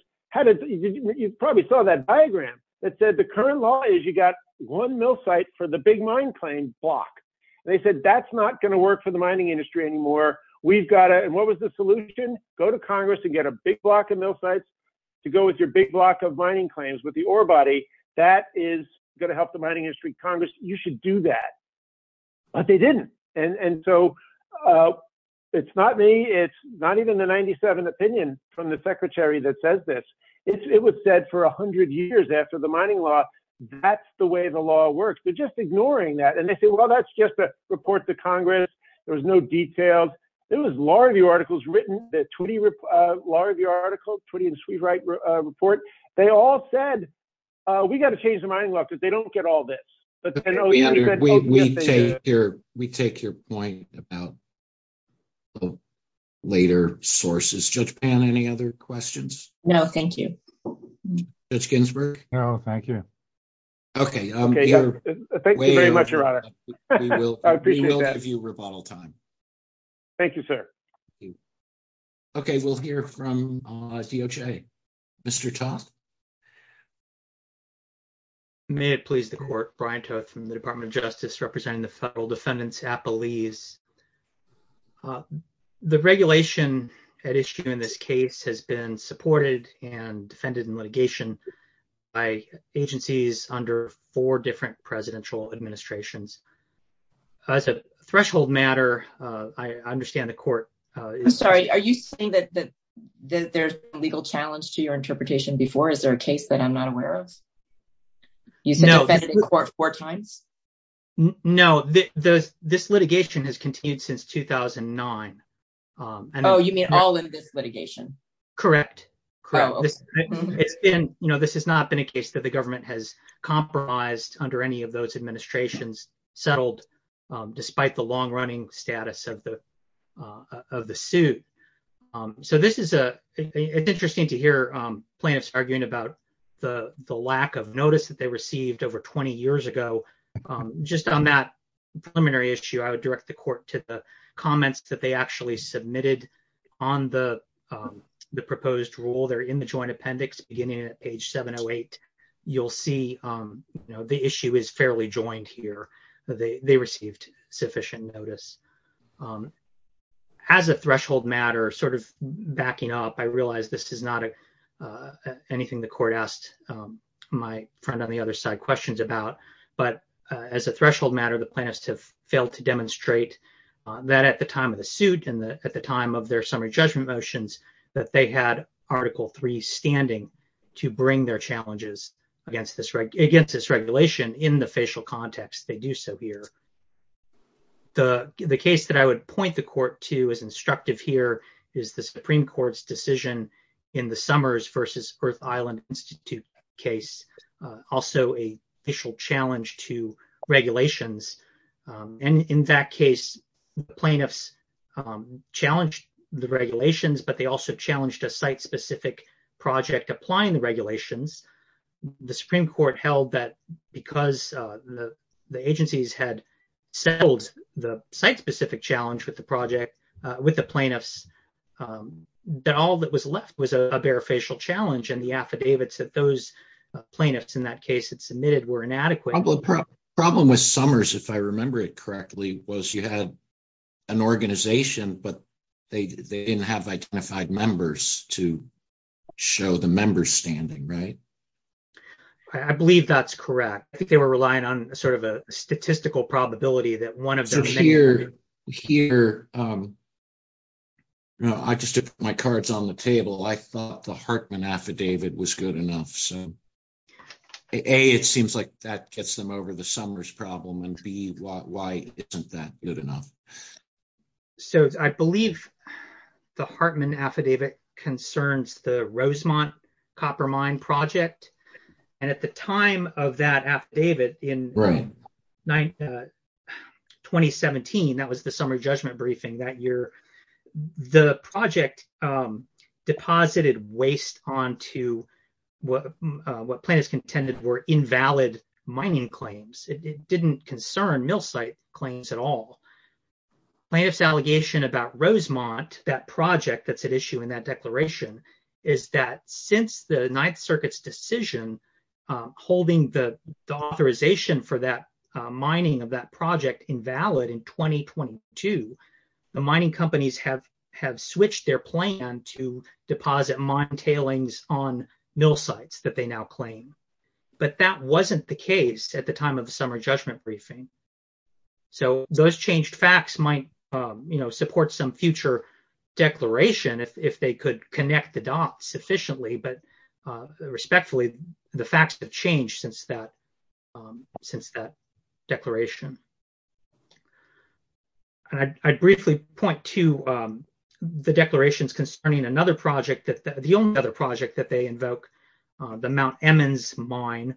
you probably saw that diagram that said the current law is you got one mill site for the big mine claim block. They said that's not going to work for the mining industry anymore. We've got it. And what was the solution? Go to Congress and get a big block of mill sites to go with your big block of mining claims with the ore body. That is going to help the mining industry. Congress, you should do that. But they didn't. And so it's not me. It's not even the 97th opinion from the secretary that says this. It was said for 100 years after the mining law. That's the way the law works. They're just ignoring that. And they say, well, that's just a report to Congress. There was no details. There was a lot of the articles written, a lot of the articles, Tweedy and Sweetwright report. They all said we've got to change the mining law because they don't get all this. We take your point about later sources. Judge Pan, any other questions? No, thank you. Judge Ginsburg? No, thank you. Okay. Thank you very much, Your Honor. We will give you rebuttal time. Thank you, sir. Okay. We'll hear from DOJ. Mr. Toth? May it please the court. Brian Toth from the Department of Justice representing the federal defendants at Belize. The regulation at issue in this case has been supported and defended in litigation by agencies under four different presidential administrations. As a threshold matter, I understand the court. I'm sorry. Are you saying that there's a legal challenge to your interpretation before? Is there a case that I'm not aware of? No. You've defended the court four times? No. This litigation has continued since 2009. Oh, you mean all of this litigation? Correct. This has not been a case that the government has compromised under any of those administrations settled despite the long-running status of the suit. So this is interesting to hear plaintiffs arguing about the lack of notice that they received over 20 years ago. Just on that preliminary issue, I would direct the court to the comments that they actually submitted on the proposed rule. They're in the joint appendix beginning at page 708. You'll see the issue is fairly joined here. They received sufficient notice. As a threshold matter, sort of backing up, I realize this is not anything the court asked my friend on the other side questions about. But as a threshold matter, the plaintiffs have failed to demonstrate that at the time of the suit and at the time of their summary judgment motions that they had Article III standing to bring their challenges against this regulation in the facial context. They do so here. The case that I would point the court to as instructive here is the Supreme Court's decision in the Summers v. Earth Island Institute case, also a facial challenge to regulations. And in that case, plaintiffs challenged the regulations, but they also challenged a site-specific project applying the regulations. The Supreme Court held that because the agencies had settled the site-specific challenge with the plaintiffs, that all that was left was a bare facial challenge. And the affidavits that those plaintiffs in that case had submitted were inadequate. The problem with Summers, if I remember it correctly, was you had an organization, but they didn't have identified members to show the member standing, right? I believe that's correct. I think they were relying on sort of a statistical probability that one of them... I just put my cards on the table. I thought the Hartman affidavit was good enough. A, it seems like that gets them over the Summers problem, and B, why isn't that good enough? So I believe the Hartman affidavit concerns the Rosemont Copper Mine project. And at the time of that affidavit in 2017, that was the summary judgment briefing that year, the project deposited waste onto what plaintiffs contended were invalid mining claims. It didn't concern mill site claims at all. Plaintiff's allegation about Rosemont, that project that's at issue in that declaration, is that since the Ninth Circuit's decision holding the authorization for that mining of that project invalid in 2022, the mining companies have switched their plan to deposit mine tailings on mill sites that they now claim. But that wasn't the case at the time of the summary judgment briefing. So those changed facts might support some future declaration if they could connect the dots sufficiently, but respectfully, the facts have changed since that declaration. I'd briefly point to the declarations concerning another project, the only other project that they invoke, the Mount Emmons mine.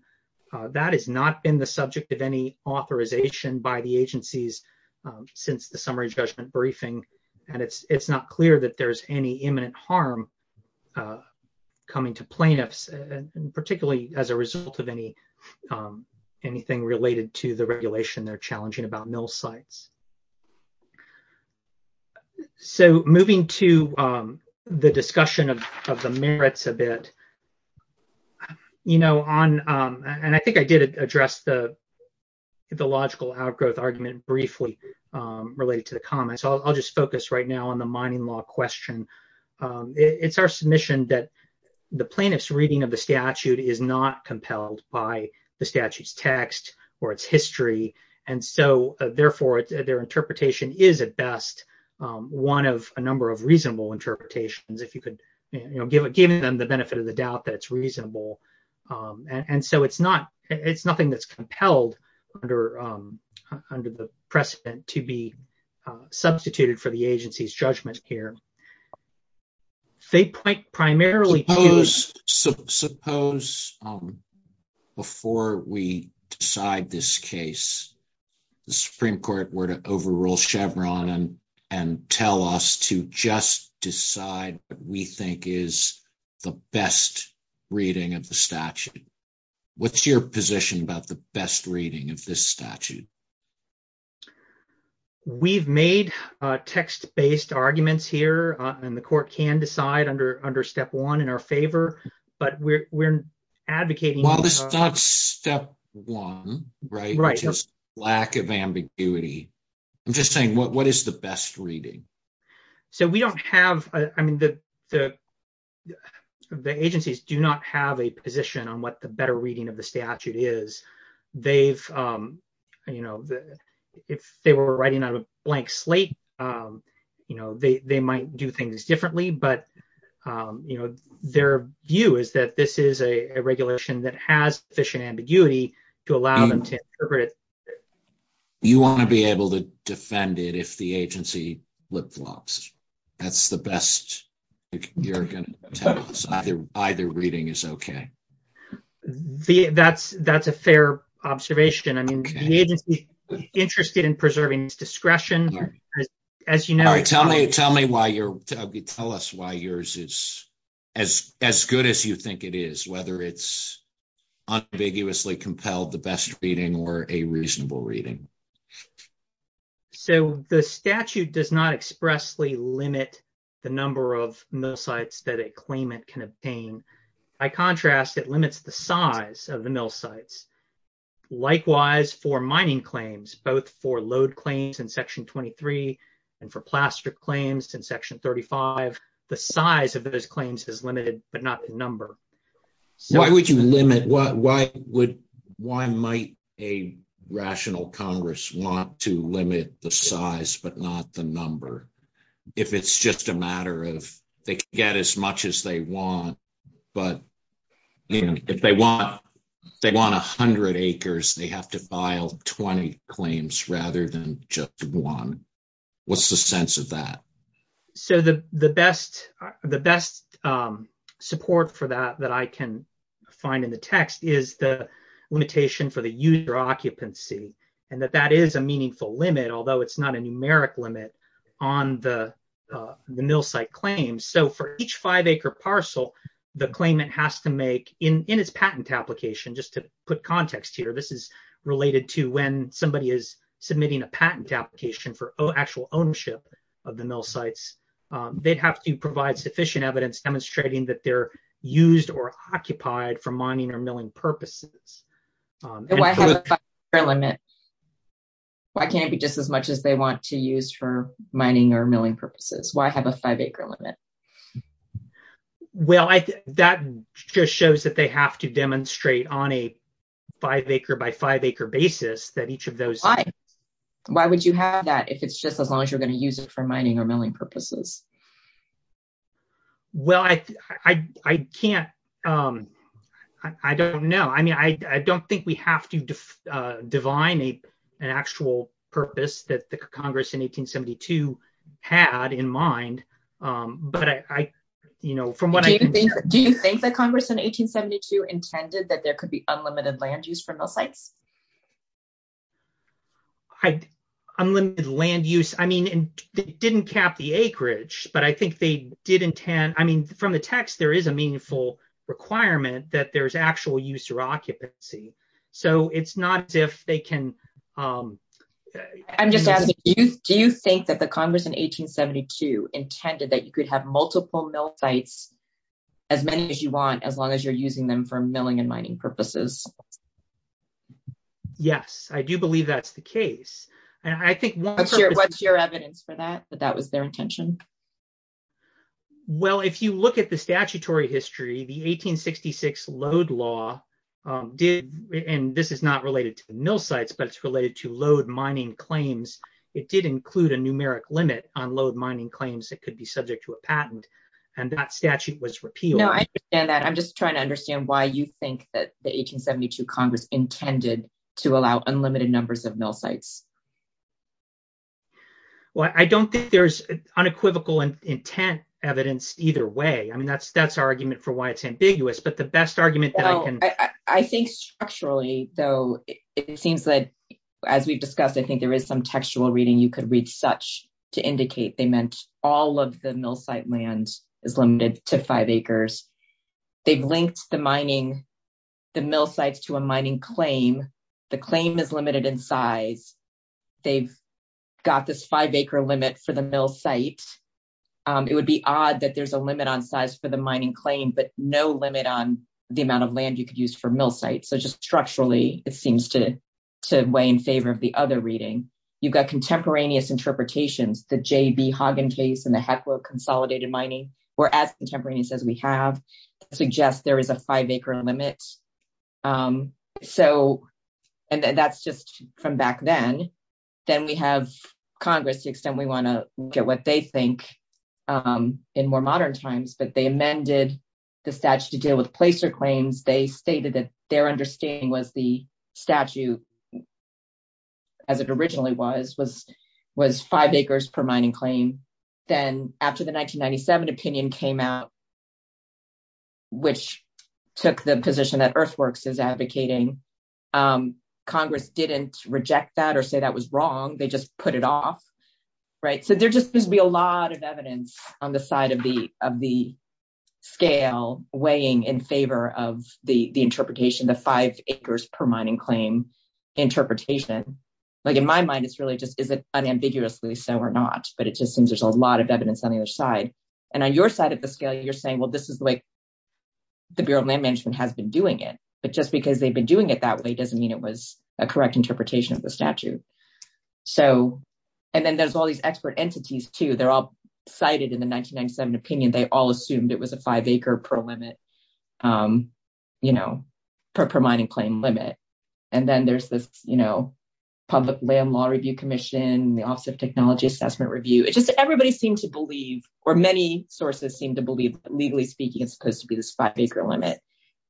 That has not been the subject of any authorization by the agencies since the summary judgment briefing, and it's not clear that there's any imminent harm coming to plaintiffs, particularly as a result of anything related to the regulation they're challenging about mill sites. So moving to the discussion of the merits a bit. I think I did address the logical outgrowth argument briefly related to the comments. I'll just focus right now on the mining law question. It's our submission that the plaintiff's reading of the statute is not compelled by the statute's text or its history. And so, therefore, their interpretation is at best one of a number of reasonable interpretations, if you could give them the benefit of the doubt that it's reasonable. And so it's nothing that's compelled under the precedent to be substituted for the agency's judgment here. They point primarily to... Suppose, before we decide this case, the Supreme Court were to overrule Chevron and tell us to just decide what we think is the best reading of the statute. What's your position about the best reading of this statute? We've made text-based arguments here, and the court can decide under step one in our favor, but we're advocating... Well, it's not step one, right? Right. It's just lack of ambiguity. I'm just saying, what is the best reading? So we don't have... I mean, the agencies do not have a position on what the better reading of the statute is. They've, you know, if they were writing on a blank slate, you know, they might do things differently. But, you know, their view is that this is a regulation that has sufficient ambiguity to allow them to interpret it. You want to be able to defend it if the agency flip-flops. That's the best you're going to tell us. Either reading is okay. That's a fair observation. I mean, the agency is interested in preserving discretion. As you know... Tell me why you're... Tell us why yours is as good as you think it is, whether it's unambiguously compelled the best reading or a reasonable reading. So the statute does not expressly limit the number of misogynistic claim it can obtain. By contrast, it limits the size of the mill sites. Likewise, for mining claims, both for load claims in Section 23 and for plastic claims in Section 35, the size of those claims is limited, but not the number. Why would you limit... Why would... Why might a rational Congress want to limit the size, but not the number? If it's just a matter of they can get as much as they want, but if they want 100 acres, they have to file 20 claims rather than just one. What's the sense of that? So the best support for that that I can find in the text is the limitation for the user occupancy. And that that is a meaningful limit, although it's not a numeric limit on the mill site claims. So for each five acre parcel, the claimant has to make in its patent application, just to put context here, this is related to when somebody is submitting a patent application for actual ownership of the mill sites. They'd have to provide sufficient evidence demonstrating that they're used or occupied for mining or milling purposes. Why have a five acre limit? Why can't it be just as much as they want to use for mining or milling purposes? Why have a five acre limit? Well, that just shows that they have to demonstrate on a five acre by five acre basis that each of those... Why? Why would you have that if it's just as long as you're going to use it for mining or milling purposes? Well, I can't... I don't know. I mean, I don't think we have to define an actual purpose that the Congress in 1872 had in mind. But I, you know, from what I can hear... Do you think that Congress in 1872 intended that there could be unlimited land use for mill sites? Unlimited land use? I mean, it didn't cap the acreage, but I think they did intend... I mean, from the text, there is a meaningful requirement that there's actual use or occupancy. So it's not as if they can... I'm just asking, do you think that the Congress in 1872 intended that you could have multiple mill sites, as many as you want, as long as you're using them for milling and mining purposes? Yes, I do believe that's the case. And I think... What's your evidence for that, that that was their intention? Well, if you look at the statutory history, the 1866 load law did... And this is not related to the mill sites, but it's related to load mining claims. It did include a numeric limit on load mining claims that could be subject to a patent, and that statute was repealed. No, I understand that. I'm just trying to understand why you think that the 1872 Congress intended to allow unlimited numbers of mill sites. Well, I don't think there's unequivocal intent evidence either way. I mean, that's our argument for why it's ambiguous, but the best argument that I can... I think structurally, though, it seems that, as we've discussed, I think there is some textual reading you could read such to indicate they meant all of the mill site land is limited to five acres. They've linked the mining, the mill sites to a mining claim. The claim is limited in size. They've got this five acre limit for the mill site. It would be odd that there's a limit on size for the mining claim, but no limit on the amount of land you could use for mill sites. So just structurally, it seems to weigh in favor of the other reading. You've got contemporaneous interpretations. The J.B. Hagen case and the heckler of consolidated mining were as contemporaneous as we have, suggest there is a five acre limit. And that's just from back then. Then we have Congress, to the extent we want to look at what they think in more modern times, but they amended the statute to deal with placer claims. They stated that their understanding was the statute, as it originally was, was five acres per mining claim. Then after the 1997 opinion came out, which took the position that Earthworks is advocating, Congress didn't reject that or say that was wrong. They just put it off. There just seems to be a lot of evidence on the side of the scale weighing in favor of the interpretation, the five acres per mining claim interpretation. In my mind, it's really just is it unambiguously so or not, but it just seems there's a lot of evidence on the other side. And on your side of the scale, you're saying, well, this is the way the Bureau of Land Management has been doing it. But just because they've been doing it that way doesn't mean it was a correct interpretation of the statute. And then there's all these expert entities, too. They're all cited in the 1997 opinion. They all assumed it was a five acre per mining claim limit. And then there's the Public Land Law Review Commission, the Office of Technology Assessment Review. It's just everybody seems to believe, or many sources seem to believe, legally speaking, it's supposed to be this five acre limit.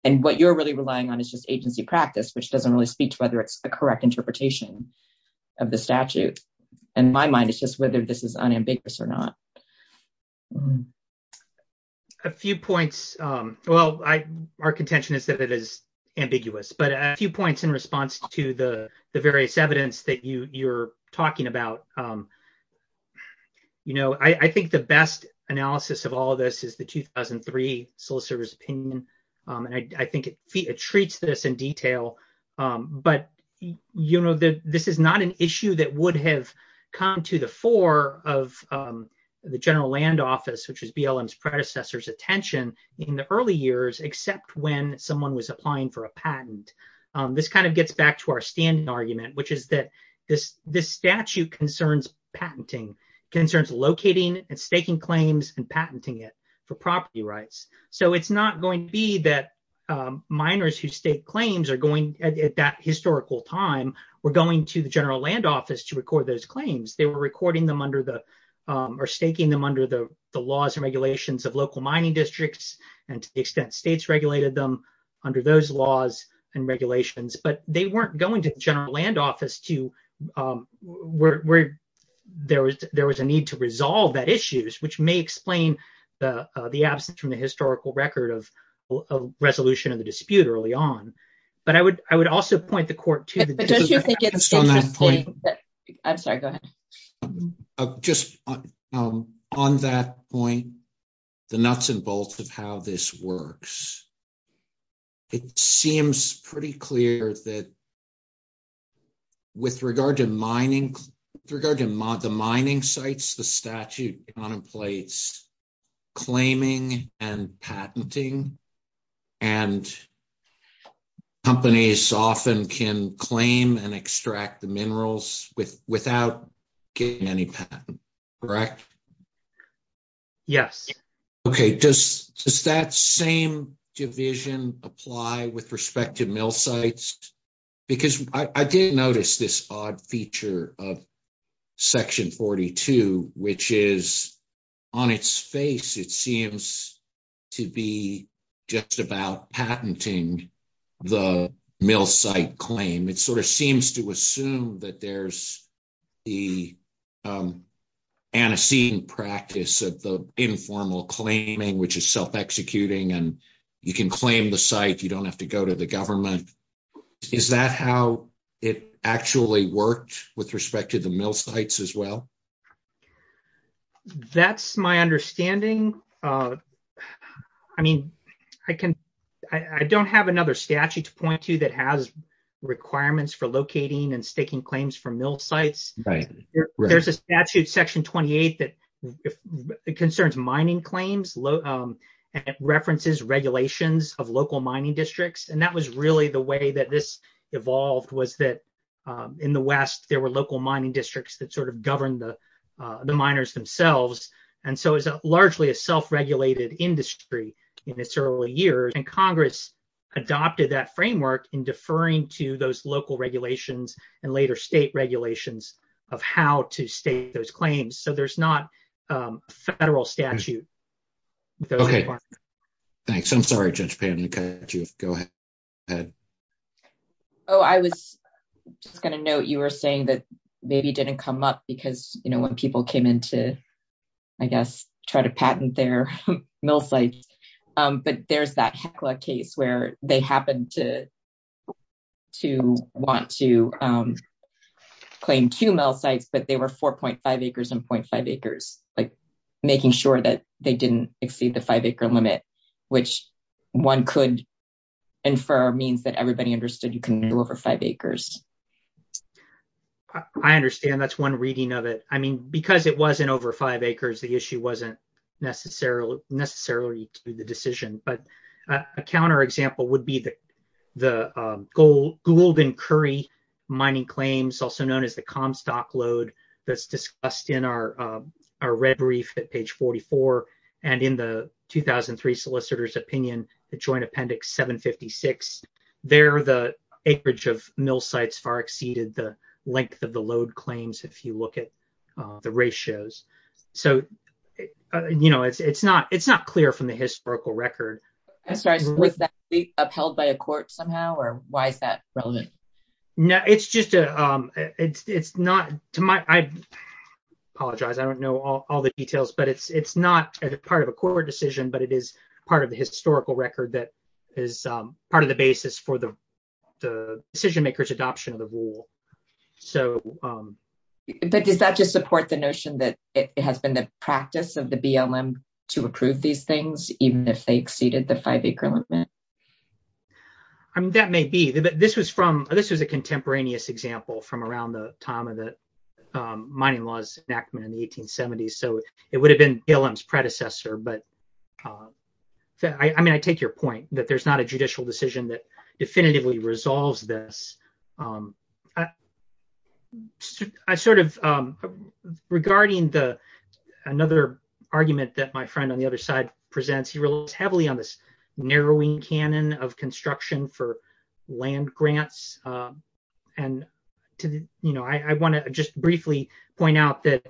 And what you're really relying on is just agency practice, which doesn't really speak to whether it's the correct interpretation. Of the statute. In my mind, it's just whether this is unambiguous or not. A few points. Well, our contention is that it is ambiguous, but a few points in response to the various evidence that you're talking about. You know, I think the best analysis of all of this is the 2003 sole service opinion. And I think it treats this in detail. But, you know, this is not an issue that would have come to the fore of the general land office, which is BLM's predecessor's attention in the early years, except when someone was applying for a patent. This kind of gets back to our standing argument, which is that this statute concerns patenting, concerns locating and staking claims and patenting it for property rights. So it's not going to be that miners whose state claims are going, at that historical time, were going to the general land office to record those claims. They were recording them under the or staking them under the laws and regulations of local mining districts. And to the extent states regulated them under those laws and regulations. But they weren't going to the general land office to where there was there was a need to resolve that issues, which may explain the absence from the historical record of resolution of the dispute early on. But I would I would also point the court to. Just on that point, the nuts and bolts of how this works. It seems pretty clear that. With regard to mining, the mining sites, the statute contemplates claiming and patenting. And companies often can claim and extract the minerals without getting any patent, correct? Yes. OK, does that same division apply with respect to mill sites? Because I did notice this odd feature of Section 42, which is on its face, it seems to be just about patenting the mill site claim. It sort of seems to assume that there's the antecedent practice of the informal claiming, which is self executing. And you can claim the site. You don't have to go to the government. Is that how it actually worked with respect to the mill sites as well? That's my understanding. I mean, I can I don't have another statute to point to that has requirements for locating and staking claims for mill sites. There's a statute, Section 28, that concerns mining claims, low references, regulations of local mining districts. And that was really the way that this evolved was that in the West, there were local mining districts that sort of govern the the miners themselves. And so it's largely a self-regulated industry in its early years. And Congress adopted that framework in deferring to those local regulations and later state regulations of how to state those claims. So there's not a federal statute. OK, thanks. I'm sorry, Judge Payne. Go ahead. Oh, I was going to note you were saying that maybe didn't come up because, you know, when people came in to, I guess, try to patent their mill sites. But there's that case where they happened to want to claim two mill sites, but they were 4.5 acres and 0.5 acres, like making sure that they didn't exceed the five acre limit, which one could infer means that everybody understood you can move over five acres. I understand that's one reading of it. I mean, because it wasn't over five acres, the issue wasn't necessarily necessarily the decision. But a counterexample would be the Gould and Curry mining claims, also known as the Comstock load that's discussed in our red brief at page 44. And in the 2003 solicitor's opinion, the Joint Appendix 756, there the acreage of mill sites far exceeded the length of the load claims, if you look at the ratios. So, you know, it's not it's not clear from the historical record. I'm sorry, would that be upheld by a court somehow or why is that relevant? No, it's just it's not to my, I apologize. I don't know all the details, but it's not part of a court decision, but it is part of the historical record that is part of the basis for the decision makers adoption of the rule. So does that just support the notion that it has been the practice of the BLM to approve these things, even if they exceeded the five acre limit? I mean, that may be, but this was from this is a contemporaneous example from around the time of the mining laws enactment in the 1870s. So it would have been BLM's predecessor, but I mean, I take your point that there's not a judicial decision that definitively resolves this. I sort of, regarding the another argument that my friend on the other side presents, he relies heavily on this narrowing canon of construction for land grants. And, you know, I want to just briefly point out that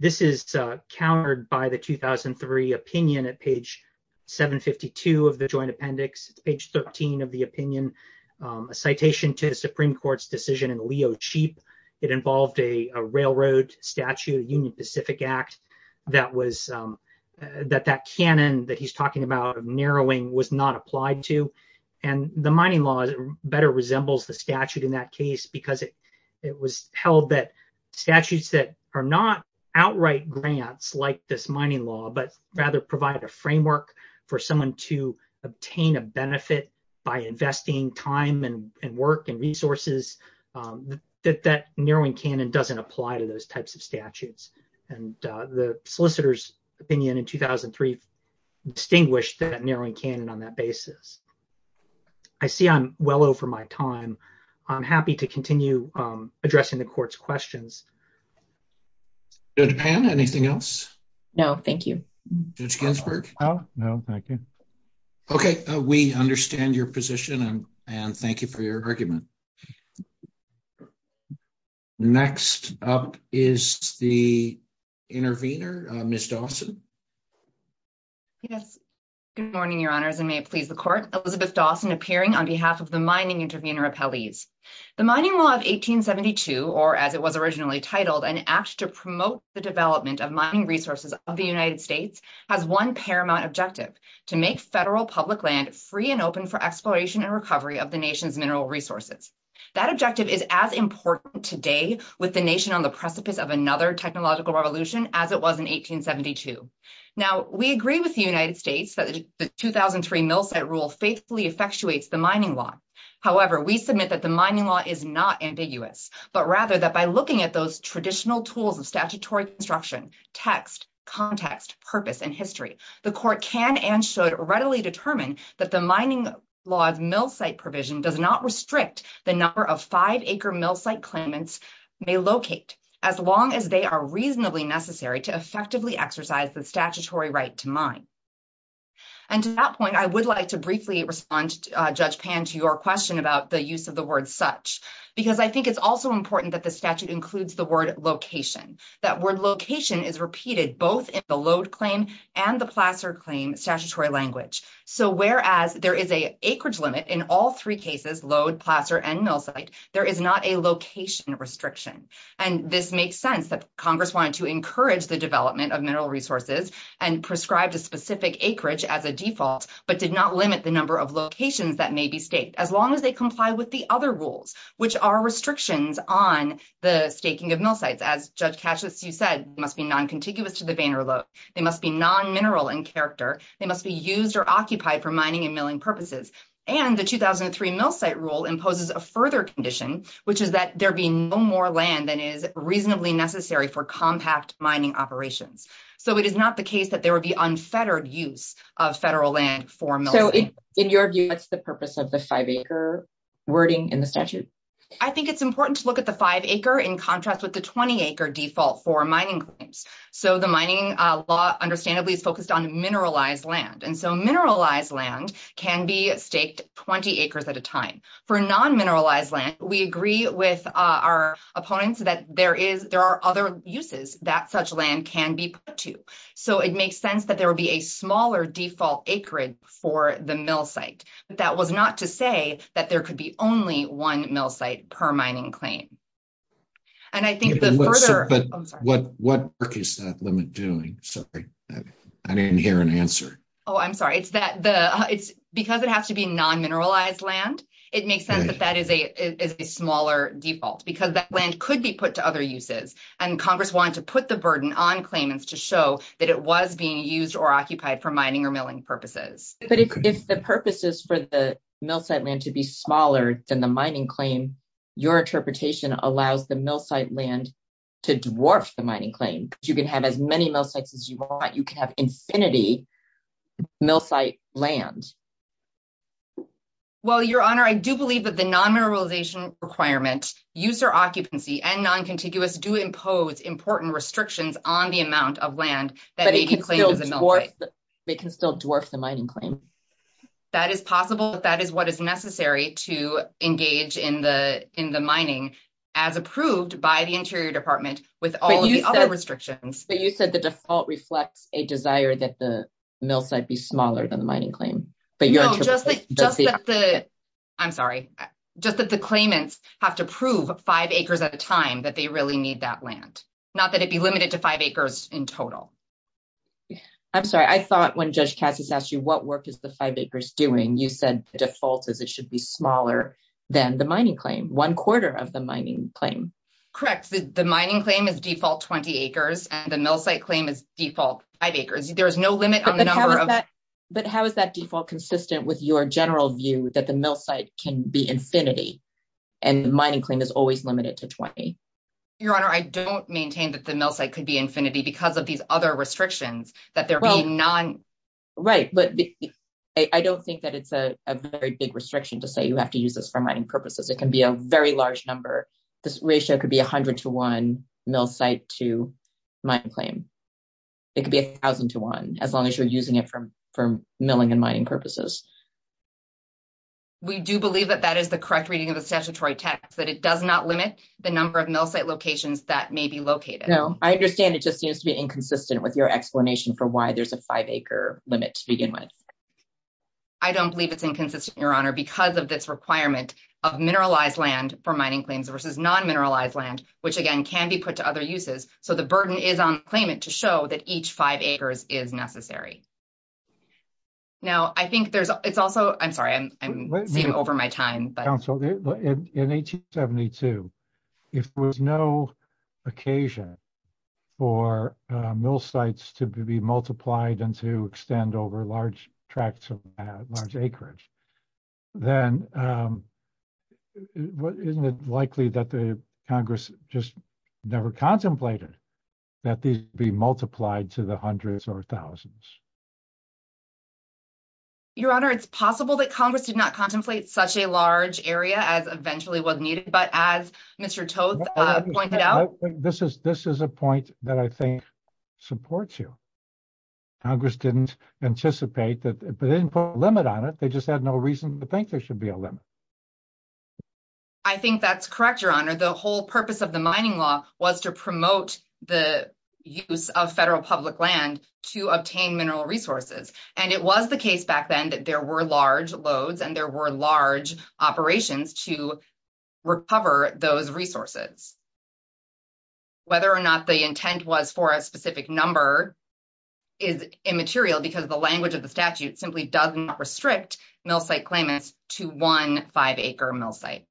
this is countered by the 2003 opinion at page 752 of the Joint Appendix, page 13 of the opinion, a citation to the Supreme Court's decision in Leo Cheap. It involved a railroad statute, Union Pacific Act, that was that that canon that he's talking about narrowing was not applied to. And the mining law better resembles the statute in that case, because it was held that statutes that are not outright grants like this mining law, but rather provide a framework for someone to obtain a benefit by investing time and work and resources. That that narrowing canon doesn't apply to those types of statutes. And the solicitor's opinion in 2003 distinguished that narrowing canon on that basis. I see I'm well over my time. I'm happy to continue addressing the court's questions. Judge Pan, anything else? No, thank you. Judge Ginsburg, no? No, thank you. Okay, we understand your position and thank you for your argument. Next up is the intervener, Ms. Dawson. Good morning, Your Honors, and may it please the court. Elizabeth Dawson appearing on behalf of the Mining Intervenor Appellees. The Mining Law of 1872, or as it was originally titled, an act to promote the development of mining resources of the United States, has one paramount objective, to make federal public land free and open for exploration and recovery of the nation's mineral resources. That objective is as important today with the nation on the precipice of another technological revolution as it was in 1872. Now, we agree with the United States that the 2003 Mill Site Rule faithfully effectuates the Mining Law. However, we submit that the Mining Law is not ambiguous, but rather that by looking at those traditional tools of statutory construction, text, context, purpose, and history, the court can and should readily determine that the Mining Law's mill site provision does not restrict the number of five-acre mill site claimants they locate as long as they are reasonably necessary to effectively exercise the statutory right to mine. And to that point, I would like to briefly respond, Judge Pan, to your question about the use of the word such, because I think it's also important that the statute includes the word location. That word location is repeated both in the load claim and the placer claim statutory language. So, whereas there is an acreage limit in all three cases, load, placer, and mill site, there is not a location restriction. And this makes sense that Congress wanted to encourage the development of mineral resources and prescribed a specific acreage as a default, but did not limit the number of locations that may be staked, as long as they comply with the other rules, which are restrictions on the staking of mill sites. As Judge Cassius, you said, must be non-contiguous to the banner load. They must be non-mineral in character. They must be used or occupied for mining and milling purposes. And the 2003 mill site rule imposes a further condition, which is that there be no more land than is reasonably necessary for compact mining operations. So, it is not the case that there would be unfettered use of federal land for milling. So, in your view, what's the purpose of the five-acre wording in the statute? I think it's important to look at the five-acre in contrast with the 20-acre default for mining claims. So, the mining law, understandably, is focused on mineralized land. And so, mineralized land can be staked 20 acres at a time. For non-mineralized land, we agree with our opponents that there are other uses that such land can be put to. So, it makes sense that there would be a smaller default acreage for the mill site. But that was not to say that there could be only one mill site per mining claim. And I think the further… But what is that limit doing? Sorry, I didn't hear an answer. Oh, I'm sorry. It's because it has to be non-mineralized land. It makes sense that that is a smaller default because that land could be put to other uses. And Congress wanted to put the burden on claimants to show that it was being used or occupied for mining or milling purposes. But if the purpose is for the mill site land to be smaller than the mining claim, your interpretation allows the mill site land to dwarf the mining claim. You can have as many mill sites as you want. You can have infinity mill site land. Well, Your Honor, I do believe that the non-mineralization requirement, user occupancy, and non-contiguous do impose important restrictions on the amount of land. But it can still dwarf the mining claim. That is possible. That is what is necessary to engage in the mining as approved by the Interior Department with all the other restrictions. But you said the default reflects a desire that the mill site be smaller than the mining claim. No, just that the claimants have to prove five acres at a time that they really need that land. Not that it be limited to five acres in total. I'm sorry. I thought when Judge Cassie asked you what work is the five acres doing, you said the default is it should be smaller than the mining claim. One quarter of the mining claim. Correct. The mining claim is default 20 acres, and the mill site claim is default five acres. There is no limit on the number. But how is that default consistent with your general view that the mill site can be infinity and the mining claim is always limited to 20? Your Honor, I don't maintain that the mill site could be infinity because of these other restrictions. Right, but I don't think that it's a very big restriction to say you have to use this for mining purposes. It can be a very large number. This ratio could be 100 to 1 mill site to mine claim. It could be 1,000 to 1 as long as you're using it for milling and mining purposes. We do believe that that is the correct reading of the statutory text, that it does not limit the number of mill site locations that may be located. No, I understand it just seems to be inconsistent with your explanation for why there's a five acre limit to begin with. I don't believe it's inconsistent, Your Honor, because of this requirement of mineralized land for mining claims versus non-mineralized land, which again can be put to other uses. So the burden is on the claimant to show that each five acres is necessary. Now, I think there's also, I'm sorry, I'm getting over my time. In 1872, if there was no occasion for mill sites to be multiplied and to extend over large tracts of large acreage, then isn't it likely that the Congress just never contemplated that these be multiplied to the hundreds or thousands? Your Honor, it's possible that Congress did not contemplate such a large area as eventually was needed, but as Mr. Toth pointed out. This is a point that I think supports you. Congress didn't anticipate that they didn't put a limit on it. They just had no reason to think there should be a limit. I think that's correct, Your Honor. The whole purpose of the mining law was to promote the use of federal public land to obtain mineral resources. And it was the case back then that there were large loads and there were large operations to recover those resources. Whether or not the intent was for a specific number is immaterial because the language of the statute simply does not restrict mill site claimants to one five-acre mill site.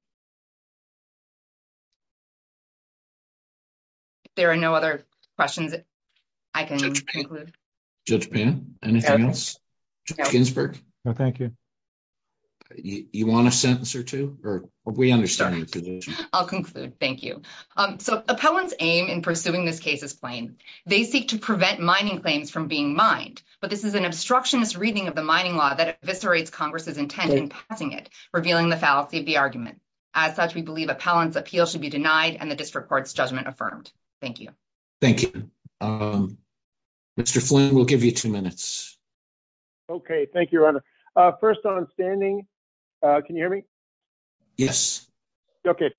If there are no other questions, I can conclude. Judge Payne, anything else? Ginsburg? No, thank you. You want a sentence or two? We understand the conditions. I'll conclude. Thank you. So appellants aim in pursuing this case as plain. They seek to prevent mining claims from being mined. But this is an obstructionist reading of the mining law that eviscerates Congress's intent in passing it, revealing the fallacy of the argument. As such, we believe appellants' appeal should be denied and the district court's judgment affirmed. Thank you. Thank you. Mr. Flynn, we'll give you two minutes. Okay, thank you, Your Honor. First on standing, can you hear me? Yes. Okay.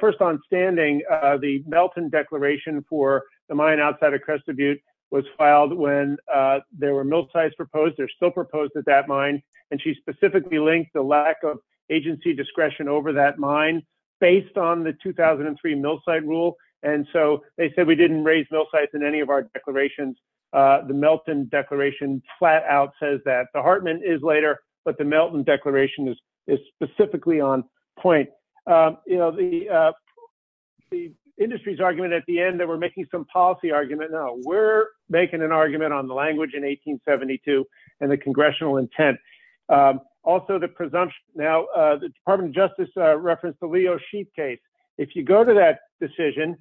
First on standing, the Melton Declaration for the mine outside of Crested Butte was filed when there were mill sites proposed. They're still proposed at that mine. And she specifically linked the lack of agency discretion over that mine based on the 2003 mill site rule. And so they said we didn't raise mill sites in any of our declarations. The Melton Declaration flat out says that. The Hartman is later, but the Melton Declaration is specifically on point. You know, the industry's argument at the end that we're making some policy argument. No, we're making an argument on the language in 1872 and the congressional intent. Also, the presumption. Now, the Department of Justice referenced the Leo Sheet case. If you go to that decision,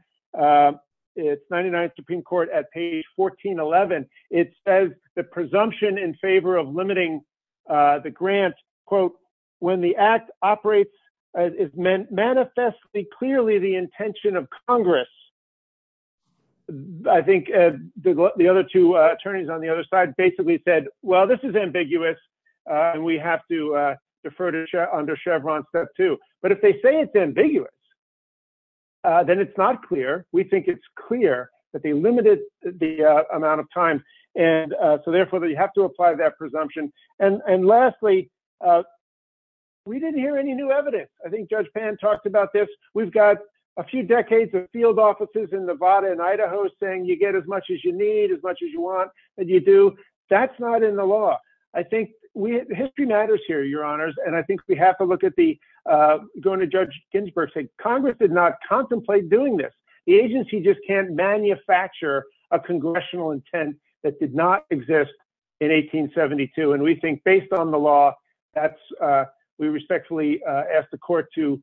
it's 99th Supreme Court at page 1411. It says the presumption in favor of limiting the grant, quote, when the act operates, it's meant manifestly clearly the intention of Congress. I think the other two attorneys on the other side basically said, well, this is ambiguous. And we have to defer to under Chevron, too. But if they say it's ambiguous. Then it's not clear. We think it's clear that they limited the amount of time. And so, therefore, they have to apply that presumption. And lastly. We didn't hear any new evidence. I think Judge Pan talked about this. We've got a few decades of field offices in Nevada and Idaho saying you get as much as you need, as much as you want. And you do. That's not in the law. I think history matters here, your honors. And I think we have to look at the going to Judge Ginsburg. Congress did not contemplate doing this. The agency just can't manufacture a congressional intent that did not exist in 1872. And we think based on the law, we respectfully ask the court to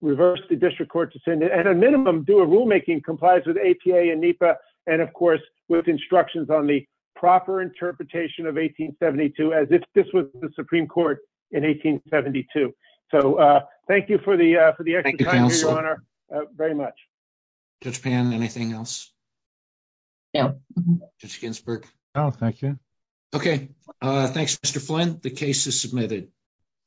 reverse the district court decision. At a minimum, do a rulemaking complies with APA and NEPA. And, of course, with instructions on the proper interpretation of 1872 as if this was the Supreme Court in 1872. So thank you for the extra time, your honor. Thank you, counsel. Very much. Judge Pan, anything else? No. Judge Ginsburg. No, thank you. Okay. Thanks, Mr. Flint. The case is submitted.